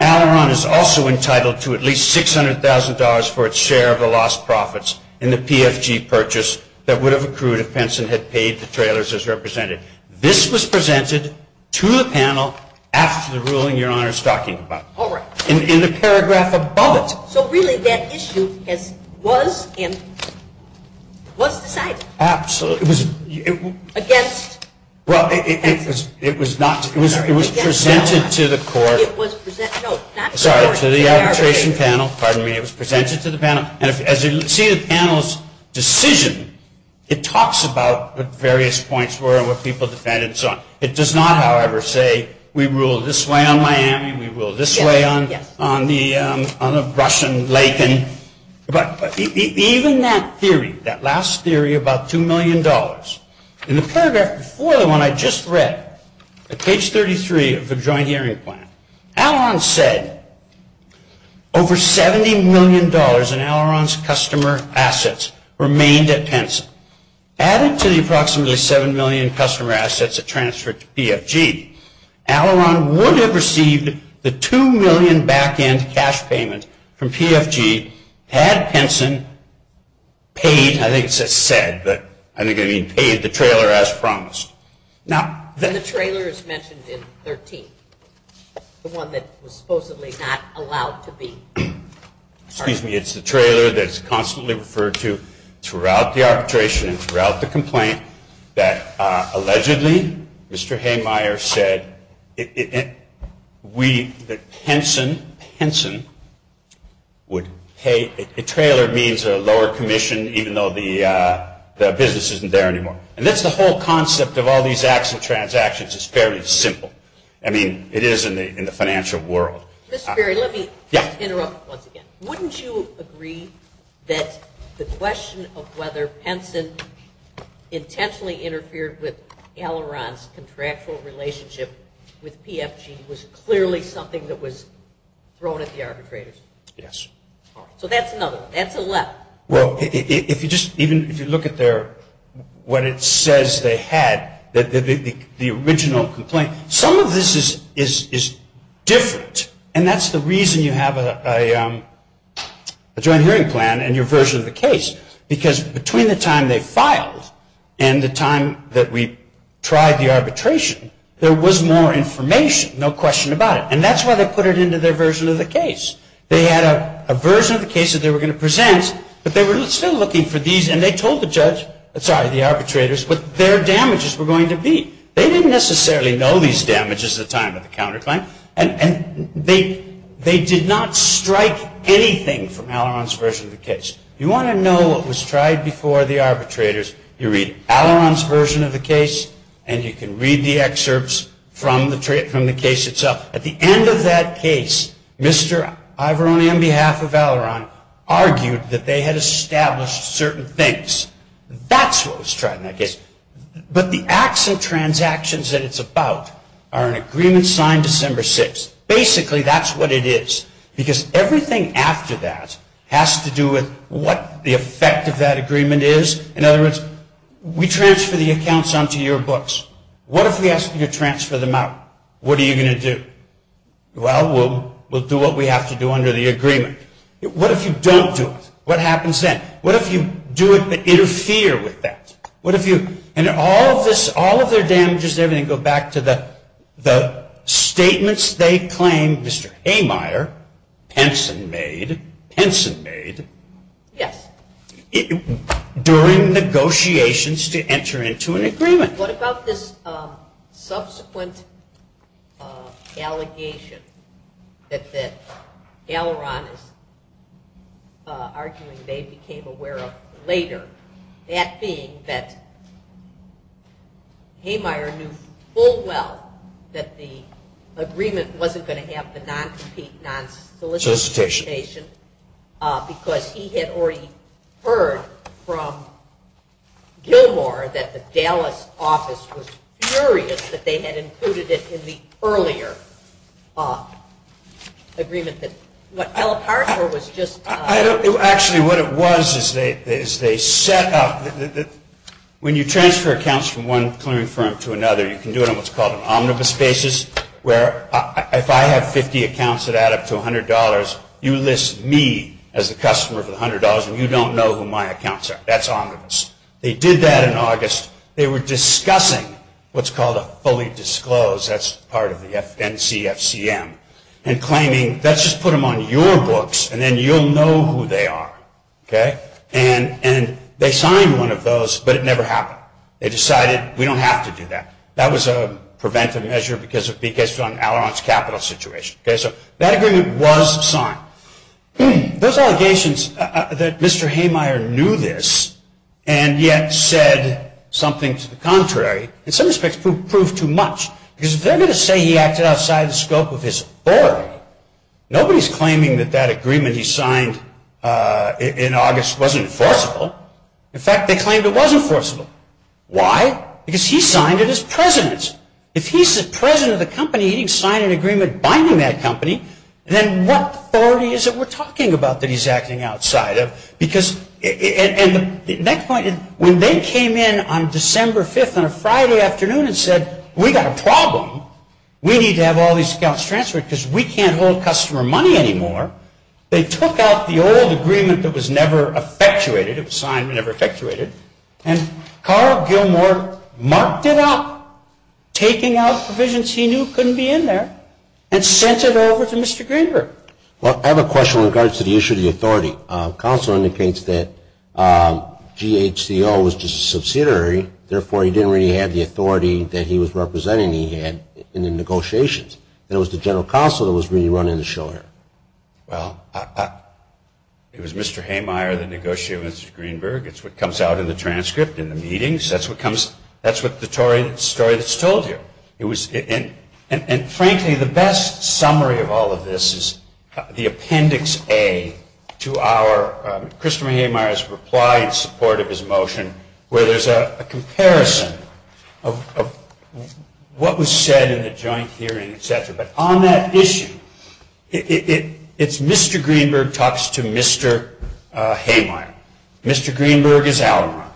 Aileron is also entitled to at least $600,000 for its share of the lost profits in the PFG purchase that would have accrued if Benson had paid the trailers as represented. This was presented to the panel after the ruling your Honor is talking about. All right. In the paragraph above it. So, really, that issue was decided? Absolutely. Against? Well, it was presented to the court. It was presented. No, it's not. Sorry. To the arbitration panel. Pardon me. It was presented to the panel. As you see in the panel's decision, it talks about the various points where people depend and so on. It does not, however, say we rule this way on Miami, we rule this way on the Russian lake. But even that theory, that last theory about $2 million, in the paragraph before the one I just read, at page 33 of the jury hearing plan, Alaron said over $70 million in Alaron's customer assets remained at Penson. Added to the approximately $7 million in customer assets that transferred to PFG, Alaron would have received the $2 million back-end cash payment from PFG had Benson paid, I think it says said, but I think it means paid the trailer as promised. And the trailer is mentioned in 13. The one that was supposedly not allowed to be. Excuse me. It's the trailer that's constantly referred to throughout the arbitration and throughout the complaint that allegedly Mr. Haymire said that Penson would pay. The trailer means a lower commission even though the business isn't there anymore. And that's the whole concept of all these acts and transactions. It's very simple. I mean, it is in the financial world. Mr. Perry, let me interrupt once again. Wouldn't you agree that the question of whether Penson intentionally interfered with Alaron's contractual relationship with PFG was clearly something that was thrown at the arbitrators? Yes. So that's another one. That's a left. Well, even if you look at what it says they had, the original complaint, some of this is different. And that's the reason you have a joint hearing plan and your version of the case. Because between the time they filed and the time that we tried the arbitration, there was more information, no question about it. And that's why they put it into their version of the case. They had a version of the case that they were going to present, but they were still looking for these. And they told the judge, sorry, the arbitrators, what their damages were going to be. They didn't necessarily know these damages at the time of the counterclaim. And they did not strike anything from Alaron's version of the case. If you want to know what was tried before the arbitrators, you read Alaron's version of the case and you can read the excerpts from the case itself. At the end of that case, Mr. Ivoroni on behalf of Alaron argued that they had established certain things. That's what was tried in that case. But the actual transactions that it's about are an agreement signed December 6th. Basically, that's what it is. Because everything after that has to do with what the effect of that agreement is. In other words, we transfer the accounts onto your books. What if we ask you to transfer them out? What are you going to do? Well, we'll do what we have to do under the agreement. What if you don't do it? What happens then? What if you do it to interfere with that? And all of their damages and everything go back to the statements they claimed Mr. Amire, Henson made, during negotiations to enter into an agreement. And what about this subsequent allegation that Alaron's argument they became aware of later? That being that Amire knew full well that the agreement wasn't going to have the non-defeat, solicitation, because he had already heard from Gilmore that the Dallas office was furious that they had included it in the earlier agreement. Actually, what it was is they set up, when you transfer accounts from one clearing firm to another, you can do it on what's called an omnibus basis, where if I have 50 accounts that add up to $100, you list me as the customer for the $100, and you don't know who my accounts are. That's omnibus. They did that in August. They were discussing what's called a fully disclosed, that's part of the NCFCM, and claiming, let's just put them on your books, and then you'll know who they are. And they signed one of those, but it never happened. They decided we don't have to do that. That was a preventive measure because it would be based on Alaron's capital situation. So that agreement was signed. Those allegations that Mr. Hamire knew this and yet said something to the contrary, in some respects proved too much, because they're going to say he acted outside the scope of his authority. Nobody's claiming that that agreement he signed in August wasn't enforceable. In fact, they claimed it was enforceable. Why? Because he signed it as president. If he's the president of the company and he signed an agreement binding that company, then what authority is it we're talking about that he's acting outside of? Because, and the next point, when they came in on December 5th on a Friday afternoon and said we've got a problem, we need to have all these accounts transferred because we can't hold customer money anymore, they took out the old agreement that was never effectuated, it was signed and never effectuated, and Carl Gilmore marked it up, taking out the provisions he knew couldn't be in there, and sent it over to Mr. Greenberg. I have a question in regards to the issue of the authority. Counselor underpins that GHCO was just a subsidiary, therefore he didn't really have the authority that he was representing he had in the negotiations. It was the General Counsel that was really running the show here. Well, it was Mr. Hamire, the negotiator, and Mr. Greenberg. It's what comes out in the transcript in the meetings. That's what the story that's told you. And frankly, the best summary of all of this is the Appendix A to our, Christopher Hamire's reply in support of his motion, where there's a comparison of what was said in the joint hearing, etc. But on that issue, it's Mr. Greenberg talks to Mr. Hamire. Mr. Greenberg is Allenron.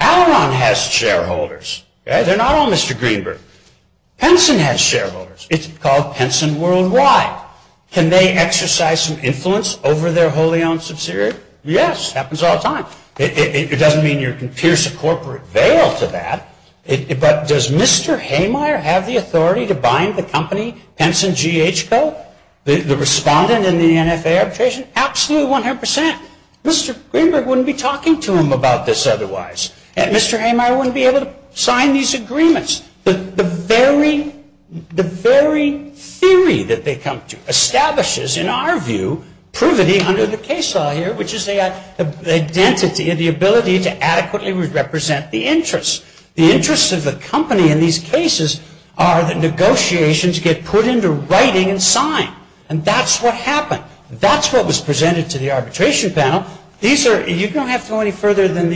Allenron has shareholders. They're not all Mr. Greenberg. Penson has shareholders. It's called Penson Worldwide. Can they exercise some influence over their wholly owned subsidiary? Yes, happens all the time. It doesn't mean you can pierce a corporate veil to that. But does Mr. Hamire have the authority to bind the company, Penson GH Co.? The respondent in the NFA application? Absolutely, 100%. Mr. Greenberg wouldn't be talking to him about this otherwise. Mr. Hamire wouldn't be able to sign these agreements. But the very theory that they come to establishes, in our view, privity under the case law here, which is the ability to adequately represent the interests. The interests of the company in these cases are that negotiations get put into writing and signed. And that's what happened. That's what was presented to the arbitration panel. You don't have to go any further than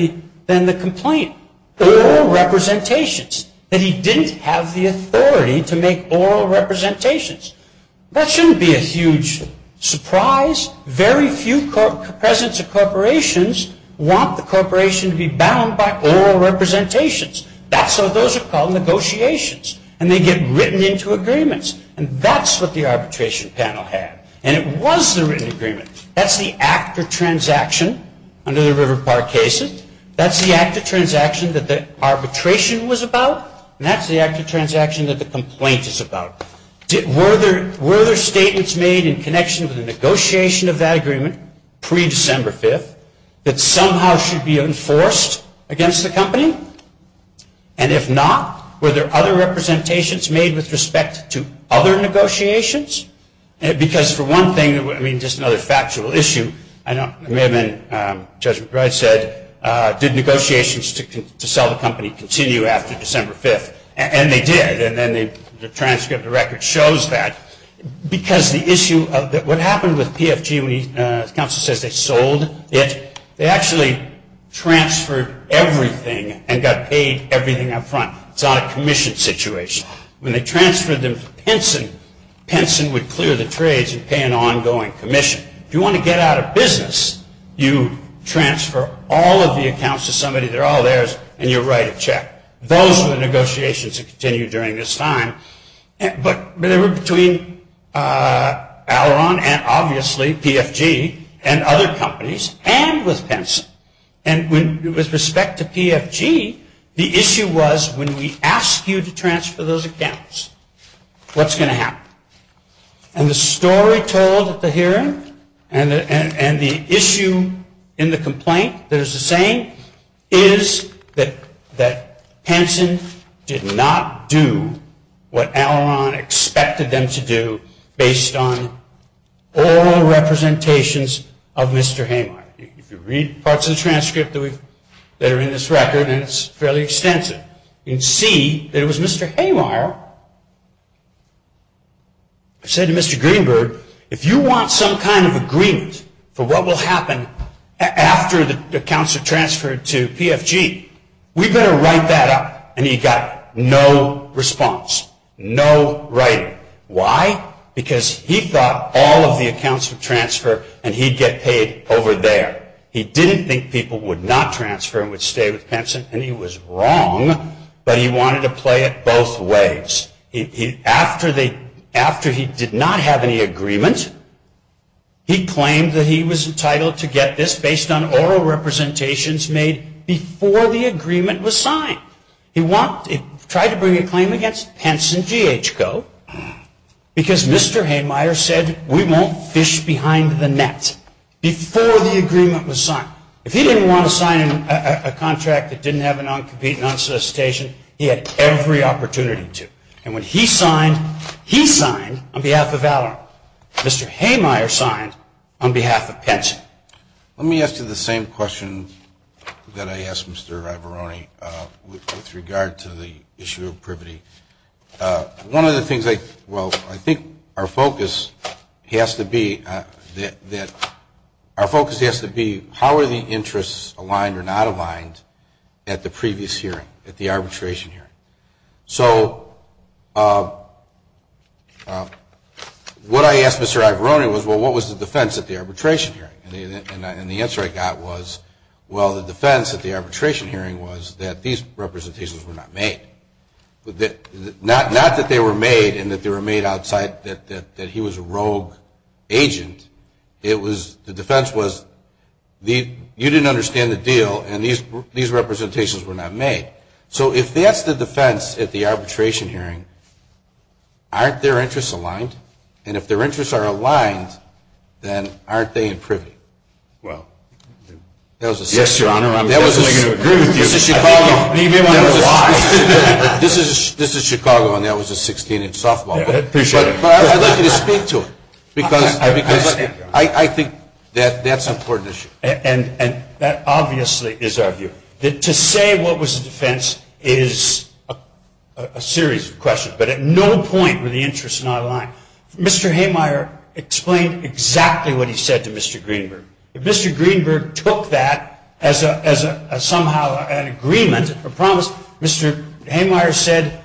the complaint. Oral representations. That he didn't have the authority to make oral representations. That shouldn't be a huge surprise. Very few presidents of corporations want the corporation to be bound by oral representations. That's why those are called negotiations. And they get written into agreements. And that's what the arbitration panel had. And it was a written agreement. That's the act of transaction under the River Park cases. That's the act of transaction that the arbitration was about. And that's the act of transaction that the complaint is about. Were there statements made in connection with the negotiation of that agreement pre-December 5th that somehow should be enforced against the company? And if not, were there other representations made with respect to other negotiations? Because, for one thing, I mean, just another factual issue. Judge McBride said, did negotiations to sell the company continue after December 5th? And they did. And then the transcript of the record shows that. Because the issue of what happened with PFG when the counsel says they sold it, they actually transferred everything and got paid everything up front. It's not a commission situation. When they transferred them to Pinson, Pinson would clear the trades and pay an ongoing commission. If you want to get out of business, you transfer all of the accounts to somebody, they're all theirs, and you write a check. Those were the negotiations that continued during this time. But there were between Alaron and, obviously, PFG and other companies and with Pinson. And with respect to PFG, the issue was when we asked you to transfer those accounts, what's going to happen? And the story told at the hearing and the issue in the complaint that is the same is that Pinson did not do what Alaron expected them to do based on all representations of Mr. Hamar. You can read parts of the transcript that are in this record, and it's fairly extensive. You can see that it was Mr. Hamar who said to Mr. Greenberg, if you want some kind of agreement for what will happen after the accounts are transferred to PFG, we'd better write that up. And he got no response, no writing. Why? Because he thought all of the accounts would transfer and he'd get paid over there. He didn't think people would not transfer and would stay with Pinson, and he was wrong, but he wanted to play it both ways. After he did not have any agreement, he claimed that he was entitled to get this based on oral representations made before the agreement was signed. He tried to bring a claim against Pinson GH Co. because Mr. Hamar said, we won't fish behind the net before the agreement was signed. If he didn't want to sign a contract that didn't have an uncompetent non-solicitation, he had every opportunity to. And when he signed, he signed on behalf of Alaron. Mr. Hamar signed on behalf of Pinson. Let me ask you the same question that I asked Mr. Ravarone with regard to the issue of privity. One of the things, well, I think our focus has to be how are the interests aligned or not aligned at the previous hearing, at the arbitration hearing? So what I asked Mr. Ravarone was, well, what was the defense at the arbitration hearing? And the answer I got was, well, the defense at the arbitration hearing was that these representations were not made. Not that they were made and that they were made outside, that he was a rogue agent. The defense was, you didn't understand the deal, and these representations were not made. So if that's the defense at the arbitration hearing, aren't their interests aligned? And if their interests are aligned, then aren't they in privity? Yes, Your Honor, I'm happy to agree with you. This is Chicago, and that was a 16-inch softball. But I'd like you to speak to it, because I think that's an important issue. And that obviously is our view. To say what was the defense is a series of questions, but at no point were the interests not aligned. Mr. Haymire explained exactly what he said to Mr. Greenberg. If Mr. Greenberg took that as somehow an agreement, a promise, Mr. Haymire said,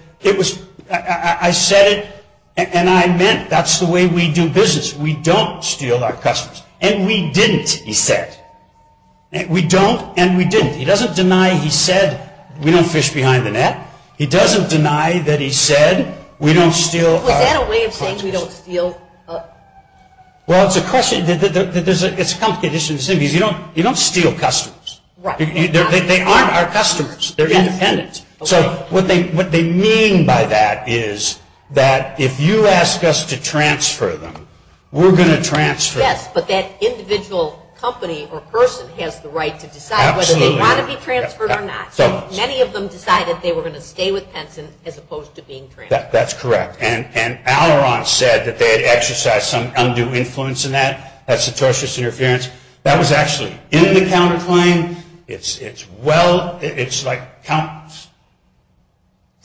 I said it and I meant it. That's the way we do business. We don't steal our customers. And we didn't, he said. We don't and we didn't. He doesn't deny he said we don't fish behind the net. He doesn't deny that he said we don't steal our customers. Was that a way of saying we don't steal? Well, it's a question, it's a complicated issue to say, because you don't steal customers. They aren't our customers. They're independent. So what they mean by that is that if you ask us to transfer them, we're going to transfer them. Yes, but that individual company or person has the right to decide whether they want to be transferred or not. Many of them decided they were going to stay with Henson as opposed to being transferred. That's correct. And Alleron said that they had exercised some undue influence in that. That's the tortious interference. That was actually in the counterclaim. It's well, it's like,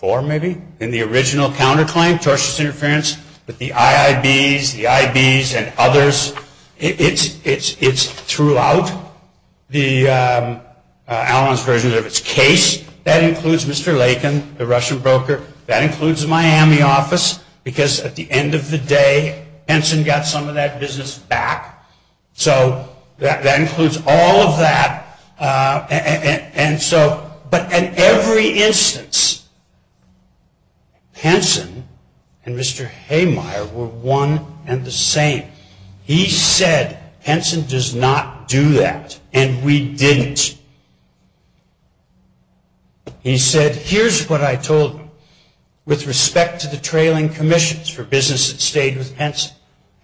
or maybe in the original counterclaim, tortious interference, with the IIBs, the IBs, and others. It's throughout Alleron's version of his case. That includes Mr. Latham, the Russian broker. That includes the Miami office, because at the end of the day, Henson got some of that business back. So that includes all of that. And so, but in every instance, Henson and Mr. Haymire were one and the same. He said, Henson does not do that. And we didn't. He said, here's what I told him with respect to the trailing commissions for business that stayed with Henson.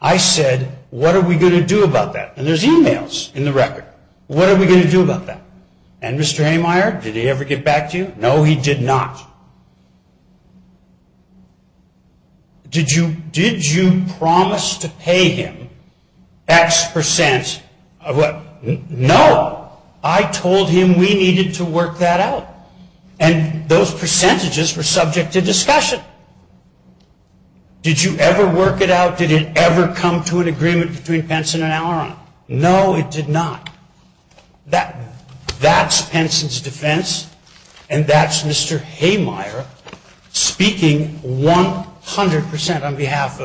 I said, what are we going to do about that? And there's emails in the record. What are we going to do about that? And Mr. Haymire, did he ever get back to you? No, he did not. Did you promise to pay him X percent of what? No. I told him we needed to work that out. And those percentages were subject to discussion. Did you ever work it out? Did it ever come to an agreement between Henson and Alleron? No, it did not. That's Henson's defense, and that's Mr. Haymire speaking 100% on behalf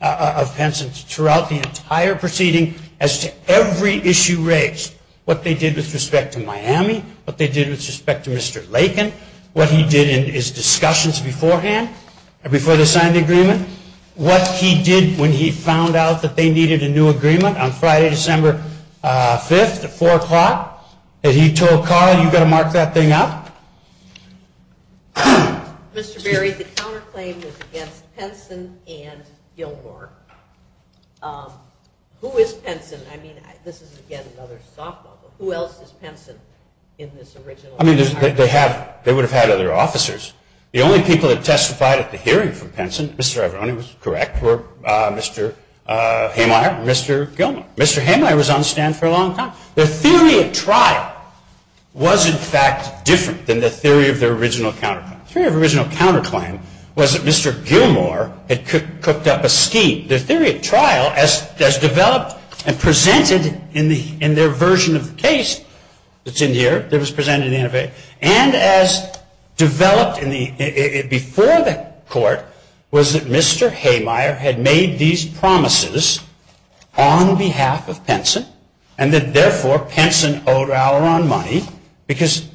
of Henson throughout the entire proceeding as to every issue raised. What they did with respect to Miami, what they did with respect to Mr. Lakin, what he did in his discussions beforehand, before they signed the agreement, what he did when he found out that they needed a new agreement on Friday, December 5th at 4 o'clock, that he told Carl, you've got to mark that thing up. Mr. Berry, the counterclaim was against Henson and Gilmore. Who is Henson? I mean, this is, again, another stockpile, but who else is Henson in this original? I mean, they would have had other officers. The only people that testified at the hearing for Henson, Mr. Averone was correct, were Mr. Haymire and Mr. Gilmore. Mr. Haymire was on the stand for a long time. The theory of trial was, in fact, different than the theory of the original counterclaim. The theory of the original counterclaim was that Mr. Gilmore had cooked up a scheme. The theory of trial, as developed and presented in their version of the case that's in here, and as developed before the court was that Mr. Haymire had made these promises on behalf of Henson and that, therefore, Henson owed Alaron money because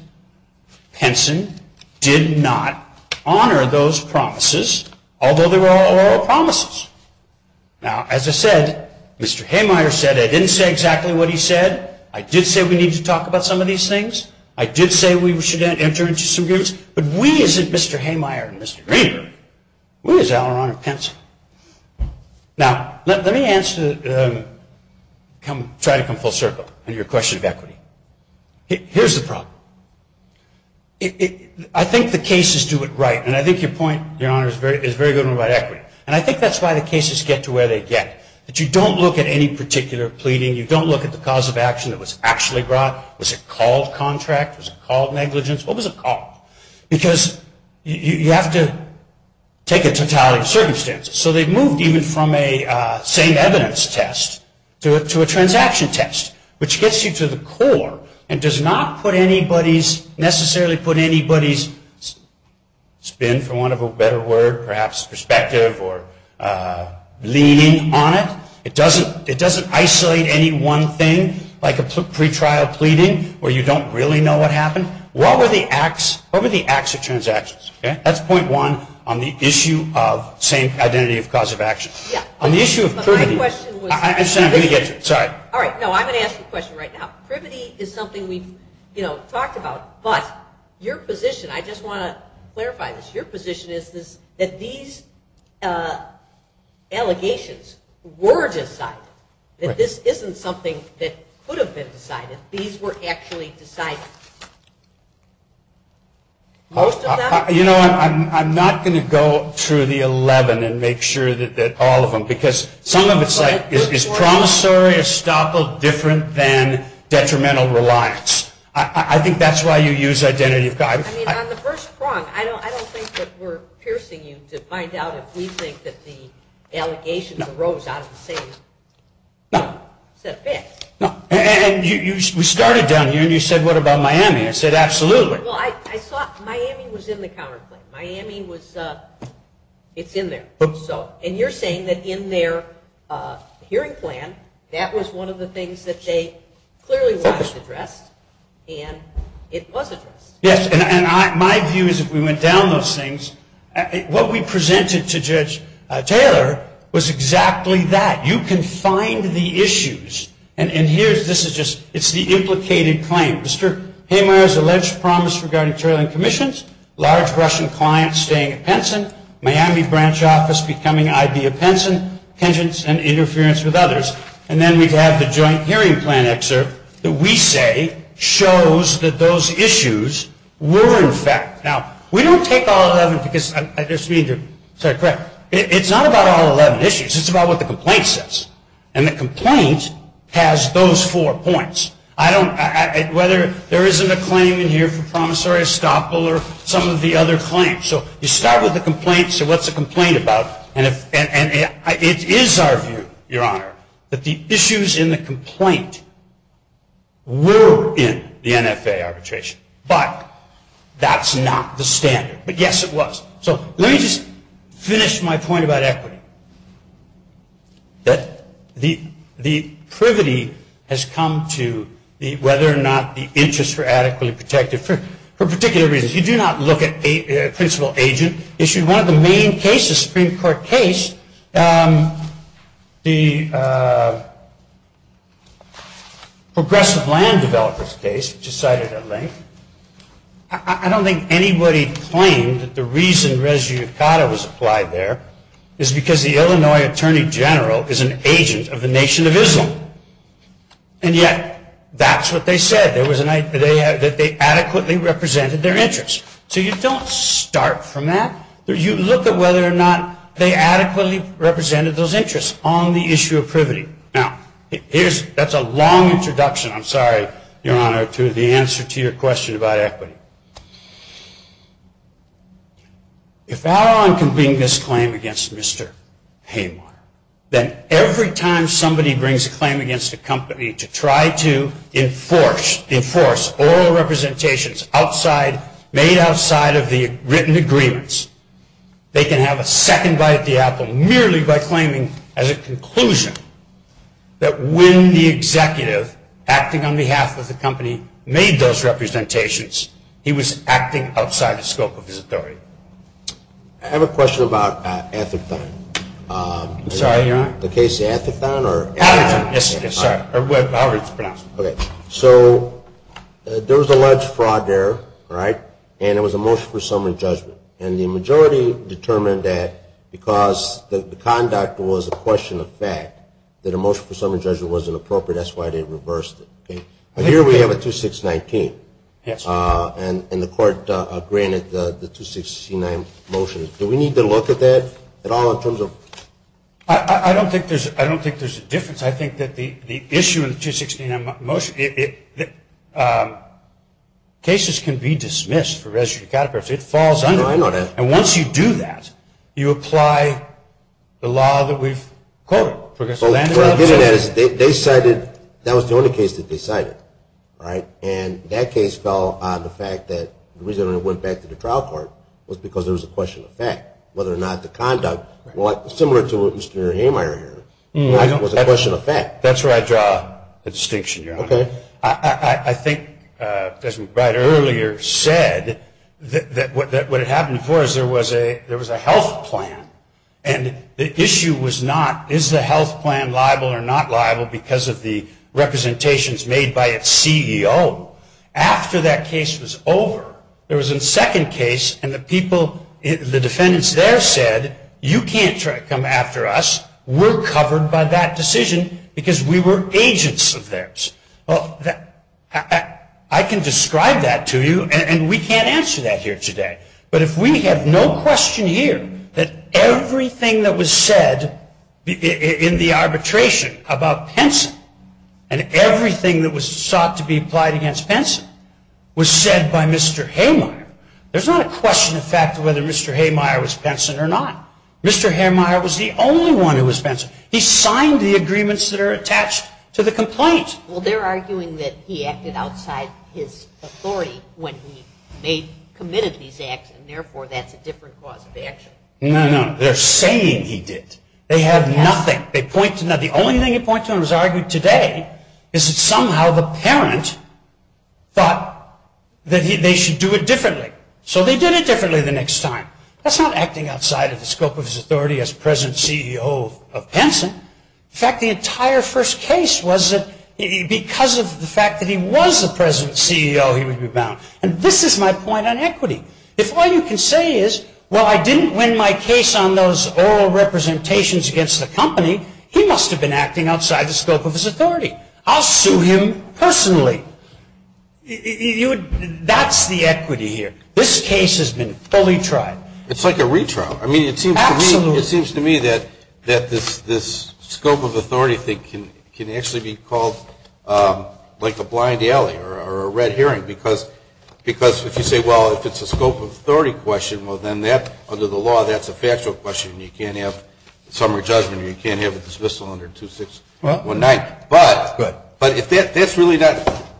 Henson did not honor those promises, although there were other promises. Now, as I said, Mr. Haymire said, I didn't say exactly what he said. I did say we need to talk about some of these things. I did say we should enter into some groups, but we as Mr. Haymire and Mr. Greenberg, we as Alaron and Pencil. Now, let me try to come full circle on your question of equity. Here's the problem. I think the cases do it right, and I think your point, Your Honor, is very good about equity, and I think that's why the cases get to where they get, that you don't look at any particular pleading. You don't look at the cause of action that was actually brought. Was it called contract? Was it called negligence? What was it called? Because you have to take a totality of circumstances, so they moved even from a same evidence test to a transaction test, which gets you to the core and does not necessarily put anybody's spin, for want of a better word, perhaps perspective or leaning on it. It doesn't isolate any one thing, like a pre-trial pleading where you don't really know what happened. What were the acts of transactions? That's point one on the issue of same identity of cause of action. On the issue of privity. I said I'm going to get to it. Sorry. All right. No, I'm going to ask the question right now. Privity is something we've talked about, but your position, I just want to clarify this, your position is that these allegations were decided. This isn't something that could have been decided. These were actually decided. You know, I'm not going to go through the 11 and make sure that all of them, because some of it is like promissory estoppel different than detrimental reliance. I think that's why you use identity of cause. I mean, on the first prompt, I don't think that we're piercing you to find out if we think that the allegations arose out of the same set of facts. And we started down here, and you said, what about Miami? I said, absolutely. Well, I thought Miami was in the counterclaim. Miami was, it's in there. And you're saying that in their hearing plan, that was one of the things that they clearly wanted to address, and it wasn't. Yes, and my view is that we went down those things. What we presented to Judge Taylor was exactly that. You can find the issues. And here, this is just, it's the implicated claim. Mr. Hamer's alleged promise regarding trailing commissions, large Russian client staying at Benson, Miami branch office becoming IBM Benson, penchants and interference with others. And then we have the joint hearing plan excerpt that we say shows that those issues were in fact. Now, we don't take all 11, because I just need to say it quick. It's not about all 11 issues. It's about what the complaint says. And the complaint has those four points. I don't, whether there isn't a claim in here from promissory estoppel or some of the other claims. So you start with the complaint, so what's the complaint about? It is our view, Your Honor, that the issues in the complaint were in the NFA arbitration. But that's not the standard. But yes, it was. So let me just finish my point about equity. The privity has come to whether or not the interests were adequately protected for particular reasons. If you do not look at principal agent issue, one of the main cases, Supreme Court case, the Progressive Land Developers case, which is cited at length, I don't think anybody claimed that the reason res judicata was applied there is because the Illinois Attorney General is an agent of the Nation of Islam. And yet, that's what they said, that they adequately represented their interests. So you don't start from that. You look at whether or not they adequately represented those interests on the issue of privity. Now, that's a long introduction, I'm sorry, Your Honor, to the answer to your question about equity. But if I were to bring this claim against Mr. Haymar, then every time somebody brings a claim against a company to try to enforce, enforce oral representations outside, made outside of the written agreements, they can have a second right of the apple merely by claiming as a conclusion that when the executive, acting on behalf of the company, made those representations, he was acting outside the scope of his authority. I have a question about antithon. I'm sorry, Your Honor. Is that the case of antithon or antithon? Antithon, yes, Your Honor. Or however you pronounce it. Okay. So there was a large fraud there, right? And it was a motion for summary judgment. And the majority determined that because the conduct was a question of fact, that a motion for summary judgment wasn't appropriate. That's why they reversed it. Here we have a 2619. And the court granted the 269 motion. Do we need to look at that at all in terms of? I don't think there's a difference. I think that the issue of the 269 motion, cases can be dismissed for residue category. If it falls under it. I know that. And once you do that, you apply the law that we've quoted. What I mean is they decided that was the only case that they decided, right? And that case fell on the fact that the reason it went back to the trial court was because it was a question of fact, whether or not the conduct, similar to what Mr. Hamire did, was a question of fact. That's where I draw a distinction, Your Honor. Okay. I think President Breyer earlier said that what had happened before was there was a health plan. And the issue was not is the health plan liable or not liable because of the representations made by its CEO. After that case was over, there was a second case, and the people, the defendants there said, you can't come after us. We're covered by that decision because we were agents of theirs. Well, I can describe that to you, and we can't answer that here today. But if we have no question here that everything that was said in the arbitration about Penson and everything that was sought to be applied against Penson was said by Mr. Hamire, there's not a question of fact of whether Mr. Hamire was Penson or not. Mr. Hamire was the only one who was Penson. He signed the agreements that are attached to the complaints. Well, they're arguing that he acted outside his authority when they committed these acts, and therefore that's a different cause of action. No, no. They're saying he did. They have nothing. The only thing he points out in his argument today is that somehow the parents thought that they should do it differently. So they did it differently the next time. That's not acting outside of the scope of his authority as present CEO of Penson. In fact, the entire first case was that because of the fact that he was the present CEO, he would be bound. And this is my point on equity. If all you can say is, well, I didn't win my case on those oral representations against the company, he must have been acting outside the scope of his authority. I'll sue him personally. That's the equity here. This case has been fully tried. It's like a retrial. I mean, it seems to me that this scope of authority thing can actually be called like a blind alley or a red herring because if you say, well, if it's a scope of authority question, well, then under the law that's a factual question and you can't have a summary judgment or you can't have a dismissal under 2619. But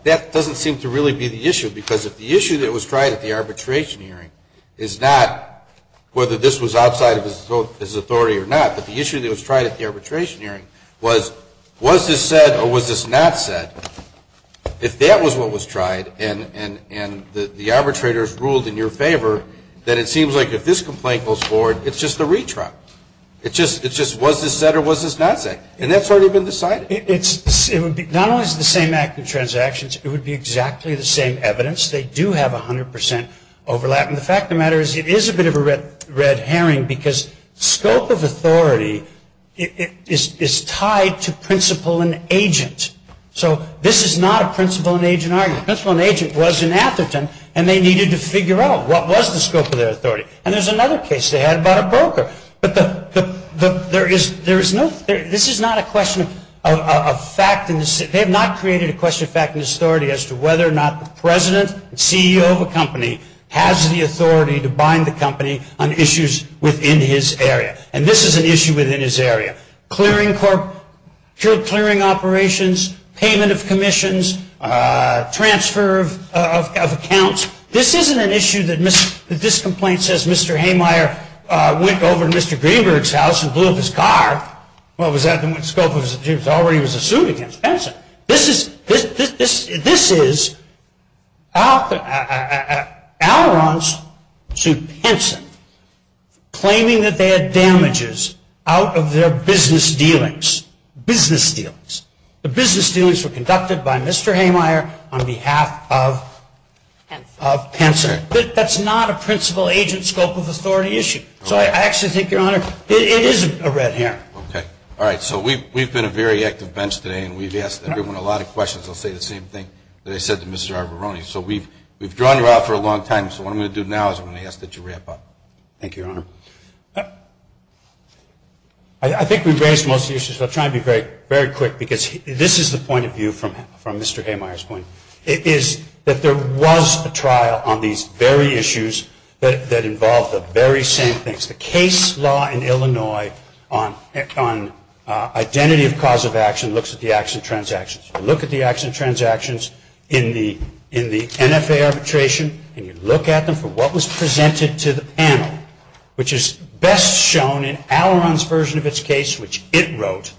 that doesn't seem to really be the issue because the issue that was tried at the arbitration hearing is not whether this was outside of his authority or not, but the issue that was tried at the arbitration hearing was, was this said or was this not said? If that was what was tried and the arbitrator ruled in your favor, then it seems like if this complaint goes forward, it's just a retrial. It's just, was this said or was this not said? And that's already been decided. Not only is it the same act of transactions, it would be exactly the same evidence. They do have 100% overlap. And the fact of the matter is it is a bit of a red herring because scope of authority is tied to principle and agent. So this is not a principle and agent argument. The principle and agent was an applicant and they needed to figure out what was the scope of their authority. And there's another case they had about a broker. But there is no, this is not a question of fact. They have not created a question of fact in this authority as to whether or not the president and CEO of a company has the authority to bind the company on issues within his area. And this is an issue within his area. Clearing corp, cured clearing operations, payment of commissions, transfer of accounts. This isn't an issue that this complaint says Mr. Haymire went over to Mr. Greenberg's house and blew up his car. Well, was that the scope of his authority was assumed against Pinson. This is outlaws to Pinson claiming that they had damages out of their business dealings. Business dealings. The business dealings were conducted by Mr. Haymire on behalf of Pinson. That's not a principle, agent, scope of authority issue. So I actually think, Your Honor, it is a red herring. Okay. All right, so we've been a very active bench today and we've asked everyone a lot of questions. I'll say the same thing that I said to Mr. Arboroni. So we've drawn you out for a long time, so what I'm going to do now is I'm going to ask that you wrap up. Thank you, Your Honor. I think we've raised most of the issues. I'll try to be very quick because this is the point of view from Mr. Haymire's point. It is that there was a trial on these very issues that involved the very same things. The case law in Illinois on identity of cause of action looks at the action transactions. You look at the action transactions in the NFA arbitration and you look at them for what was presented to them, which is best shown in Alaron's version of its case, which it wrote,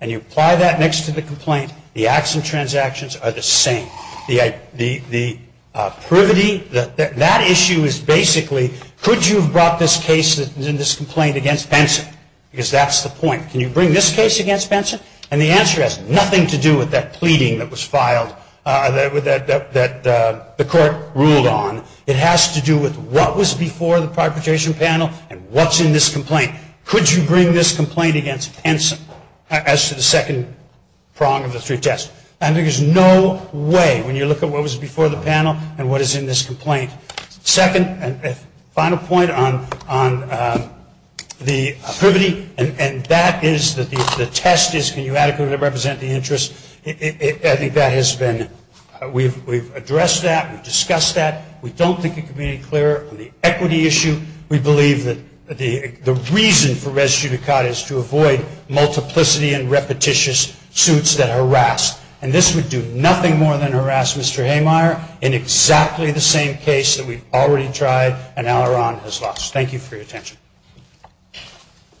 and you apply that next to the complaint, the action transactions are the same. The privity, that issue is basically, could you have brought this case in this complaint against Benson? Because that's the point. Can you bring this case against Benson? And the answer has nothing to do with that pleading that was filed, that the court ruled on. It has to do with what was before the propagation panel and what's in this complaint. Could you bring this complaint against Benson as to the second prong of the three tests? I think there's no way, when you look at what was before the panel and what is in this complaint. Second and final point on the privity, and that is that the test is can you adequately represent the interest? I think that has been, we've addressed that, we've discussed that. We don't think it can be any clearer on the equity issue. We believe that the reason for res judicata is to avoid multiplicity and repetitious suits that harass. And this would do nothing more than harass Mr. Haymire in exactly the same case that we've already tried and now our honor has lost. Thank you for your attention.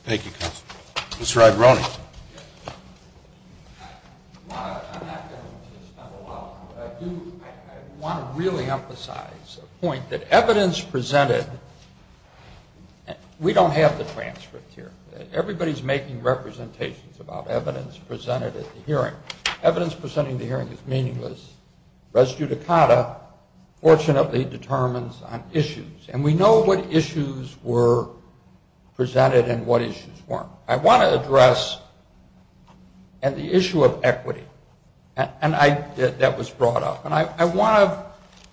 Thank you, counsel. Mr. Aguirone. I want to really emphasize the point that evidence presented, we don't have the transcript here. Everybody's making representations about evidence presented at the hearing. Evidence presented at the hearing is meaningless. Res judicata fortunately determines on issues, and we know what issues were presented and what issues weren't. I want to address the issue of equity that was brought up.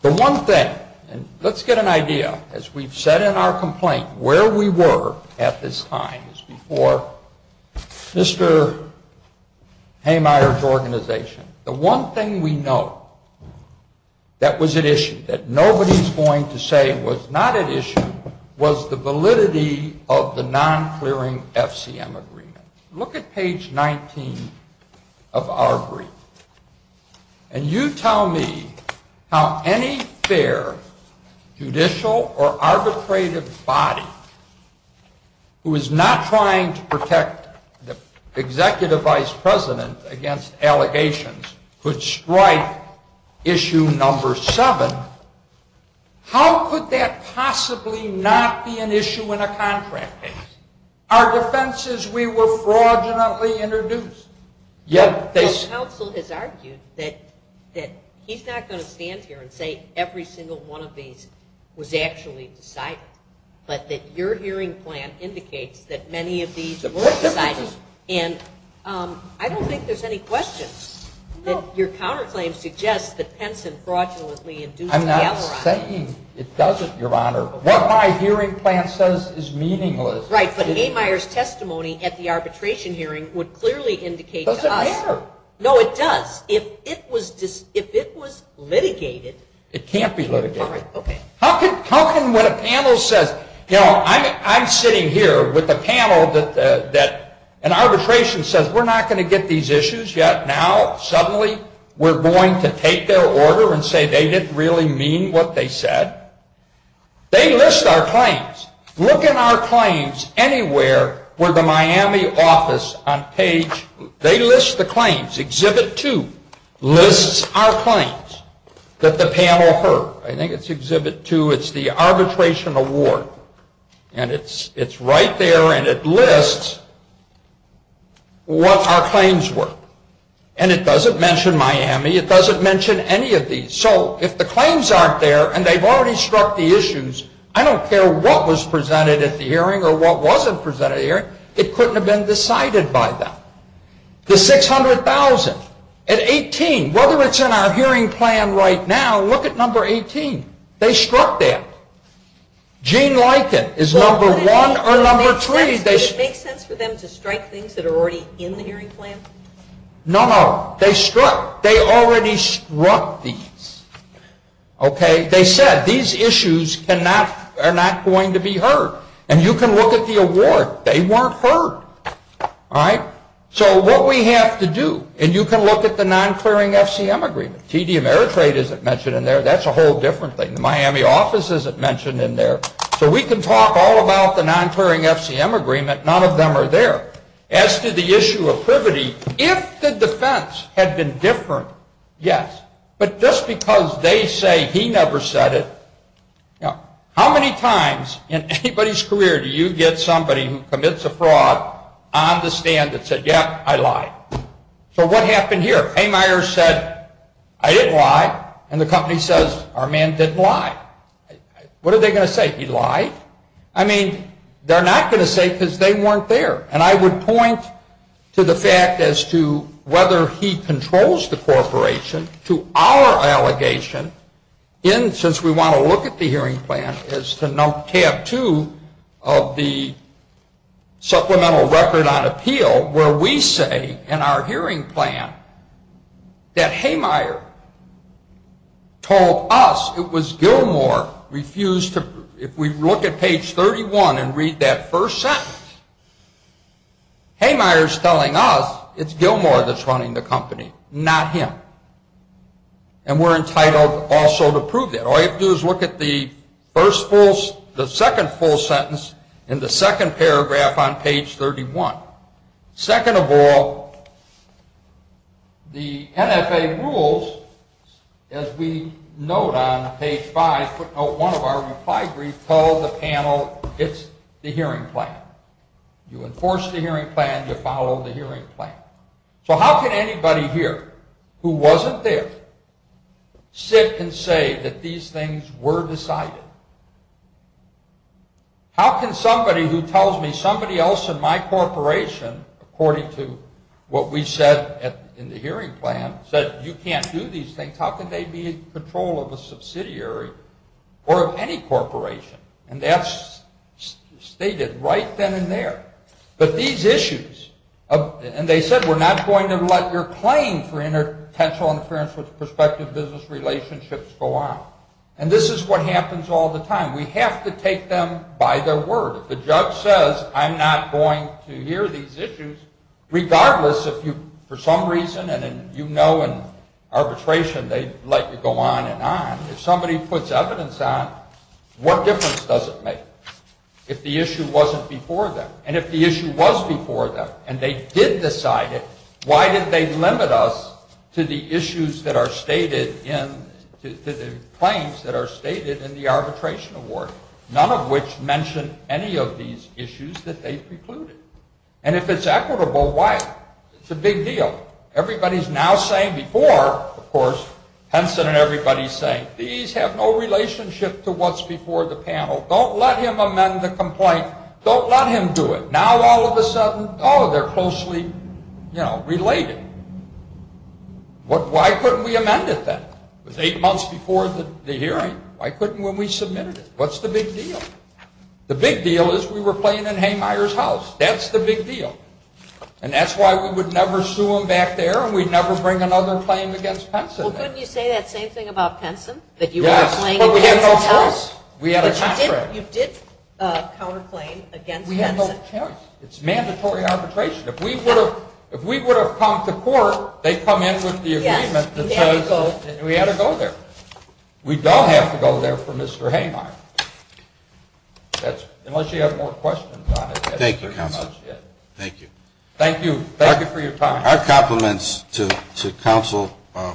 The one thing, and let's get an idea, as we've said in our complaint, where we were at this time is before Mr. Haymire's organization. The one thing we know that was at issue, that nobody's going to say was not at issue, was the validity of the non-clearing FCM agreement. Look at page 19 of our brief, and you tell me how any fair judicial or arbitrated body who is not trying to protect the executive vice president against allegations would strike issue number seven. How could that possibly not be an issue in a contract? Our defense is we were fraudulently introduced. The counsel has argued that he's not going to stand here and say every single one of these was actually decided, but that your hearing plan indicates that many of these were decided. And I don't think there's any question that your counterclaim suggests that Penson fraudulently induced the alibi. I'm not saying it doesn't, Your Honor. What my hearing plan says is meaningless. Right, but Haymire's testimony at the arbitration hearing would clearly indicate that. No, it does. If it was litigated. It can't be litigated. How come when a panel says, you know, I'm sitting here with a panel that an arbitration says, we're not going to get these issues yet. Now suddenly we're going to take their order and say they didn't really mean what they said. They list our claims. Look in our claims anywhere where the Miami office on page, they list the claims. Exhibit 2 lists our claims that the panel heard. I think it's Exhibit 2. It's the arbitration award. And it's right there and it lists what our claims were. And it doesn't mention Miami. It doesn't mention any of these. So if the claims aren't there and they've already struck the issues, I don't care what was presented at the hearing or what wasn't presented at the hearing, it couldn't have been decided by them. The $600,000 at 18, whether it's in our hearing plan right now, look at number 18. They struck that. Gene Likett is number one or number three. Does it make sense for them to strike things that are already in the hearing plan? No, no. They struck. They already struck these. Okay? They said these issues are not going to be heard. And you can look at the award. They weren't heard. All right? So what we have to do, and you can look at the non-clearing FCM agreement. TD Ameritrade isn't mentioned in there. That's a whole different thing. The Miami office isn't mentioned in there. So we can talk all about the non-clearing FCM agreement. None of them are there. As to the issue of privity, if the defense had been different, yes. But just because they say he never said it, how many times in anybody's career do you get somebody who commits a fraud on the stand that said, yeah, I lied? So what happened here? Haymeier said, I didn't lie. And the company says, our man didn't lie. What are they going to say? He lied? I mean, they're not going to say it because they weren't there. And I would point to the fact as to whether he controls the corporation to our allegation, since we want to look at the hearing plan, is to tab two of the supplemental record on appeal, where we say in our hearing plan that Haymeier told us it was Gilmore refused to, if we look at page 31 and read that first sentence, Haymeier's telling us it's Gilmore that's running the company, not him. And we're entitled also to prove that. All you have to do is look at the second full sentence in the second paragraph on page 31. Second of all, the NFA rules, as we note on page five, one of our reply briefs called the panel, it's the hearing plan. You enforce the hearing plan, you follow the hearing plan. So how can anybody here who wasn't there sit and say that these things were decided? How can somebody who tells me somebody else in my corporation, according to what we said in the hearing plan, said you can't do these things, how can they be in control of a subsidiary or of any corporation? And that's stated right then and there. But these issues, and they said we're not going to let your claim for interpersonal interference with prospective business relationships go on. And this is what happens all the time. We have to take them by their word. The judge says I'm not going to hear these issues regardless if you, for some reason, and you know in arbitration they let you go on and on. If somebody puts evidence on, what difference does it make if the issue wasn't before them? And if the issue was before them and they did decide it, why did they limit us to the claims that are stated in the arbitration award, none of which mention any of these issues that they precluded? And if it's equitable, why? It's a big deal. Everybody's now saying before, of course, Henson and everybody's saying, these have no relationship to what's before the panel. Don't let him amend the complaint. Don't let him do it. Now all of a sudden, oh, they're closely related. Why couldn't we amend it then? It was eight months before the hearing. Why couldn't we submit it? What's the big deal? The big deal is we were playing in Haymire's house. That's the big deal. And that's why we would never sue him back there and we'd never bring another claim against Henson. Well, couldn't you say that same thing about Henson? Yes, but we had no case. We had a contract. You did counterclaim against Henson. It's mandatory arbitration. If we would have come to court, they'd come in with the agreement that says we had to go there. We don't have to go there for Mr. Haymire. Unless you have more questions on it. Thank you, counsel. Thank you. Thank you. Thank you for your time. Our compliments to counsel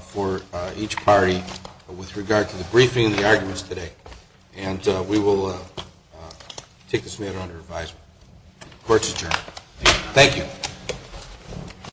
for each party with regard to the briefing and the arguments today. And we will take this matter under advisement. Court is adjourned. Thank you.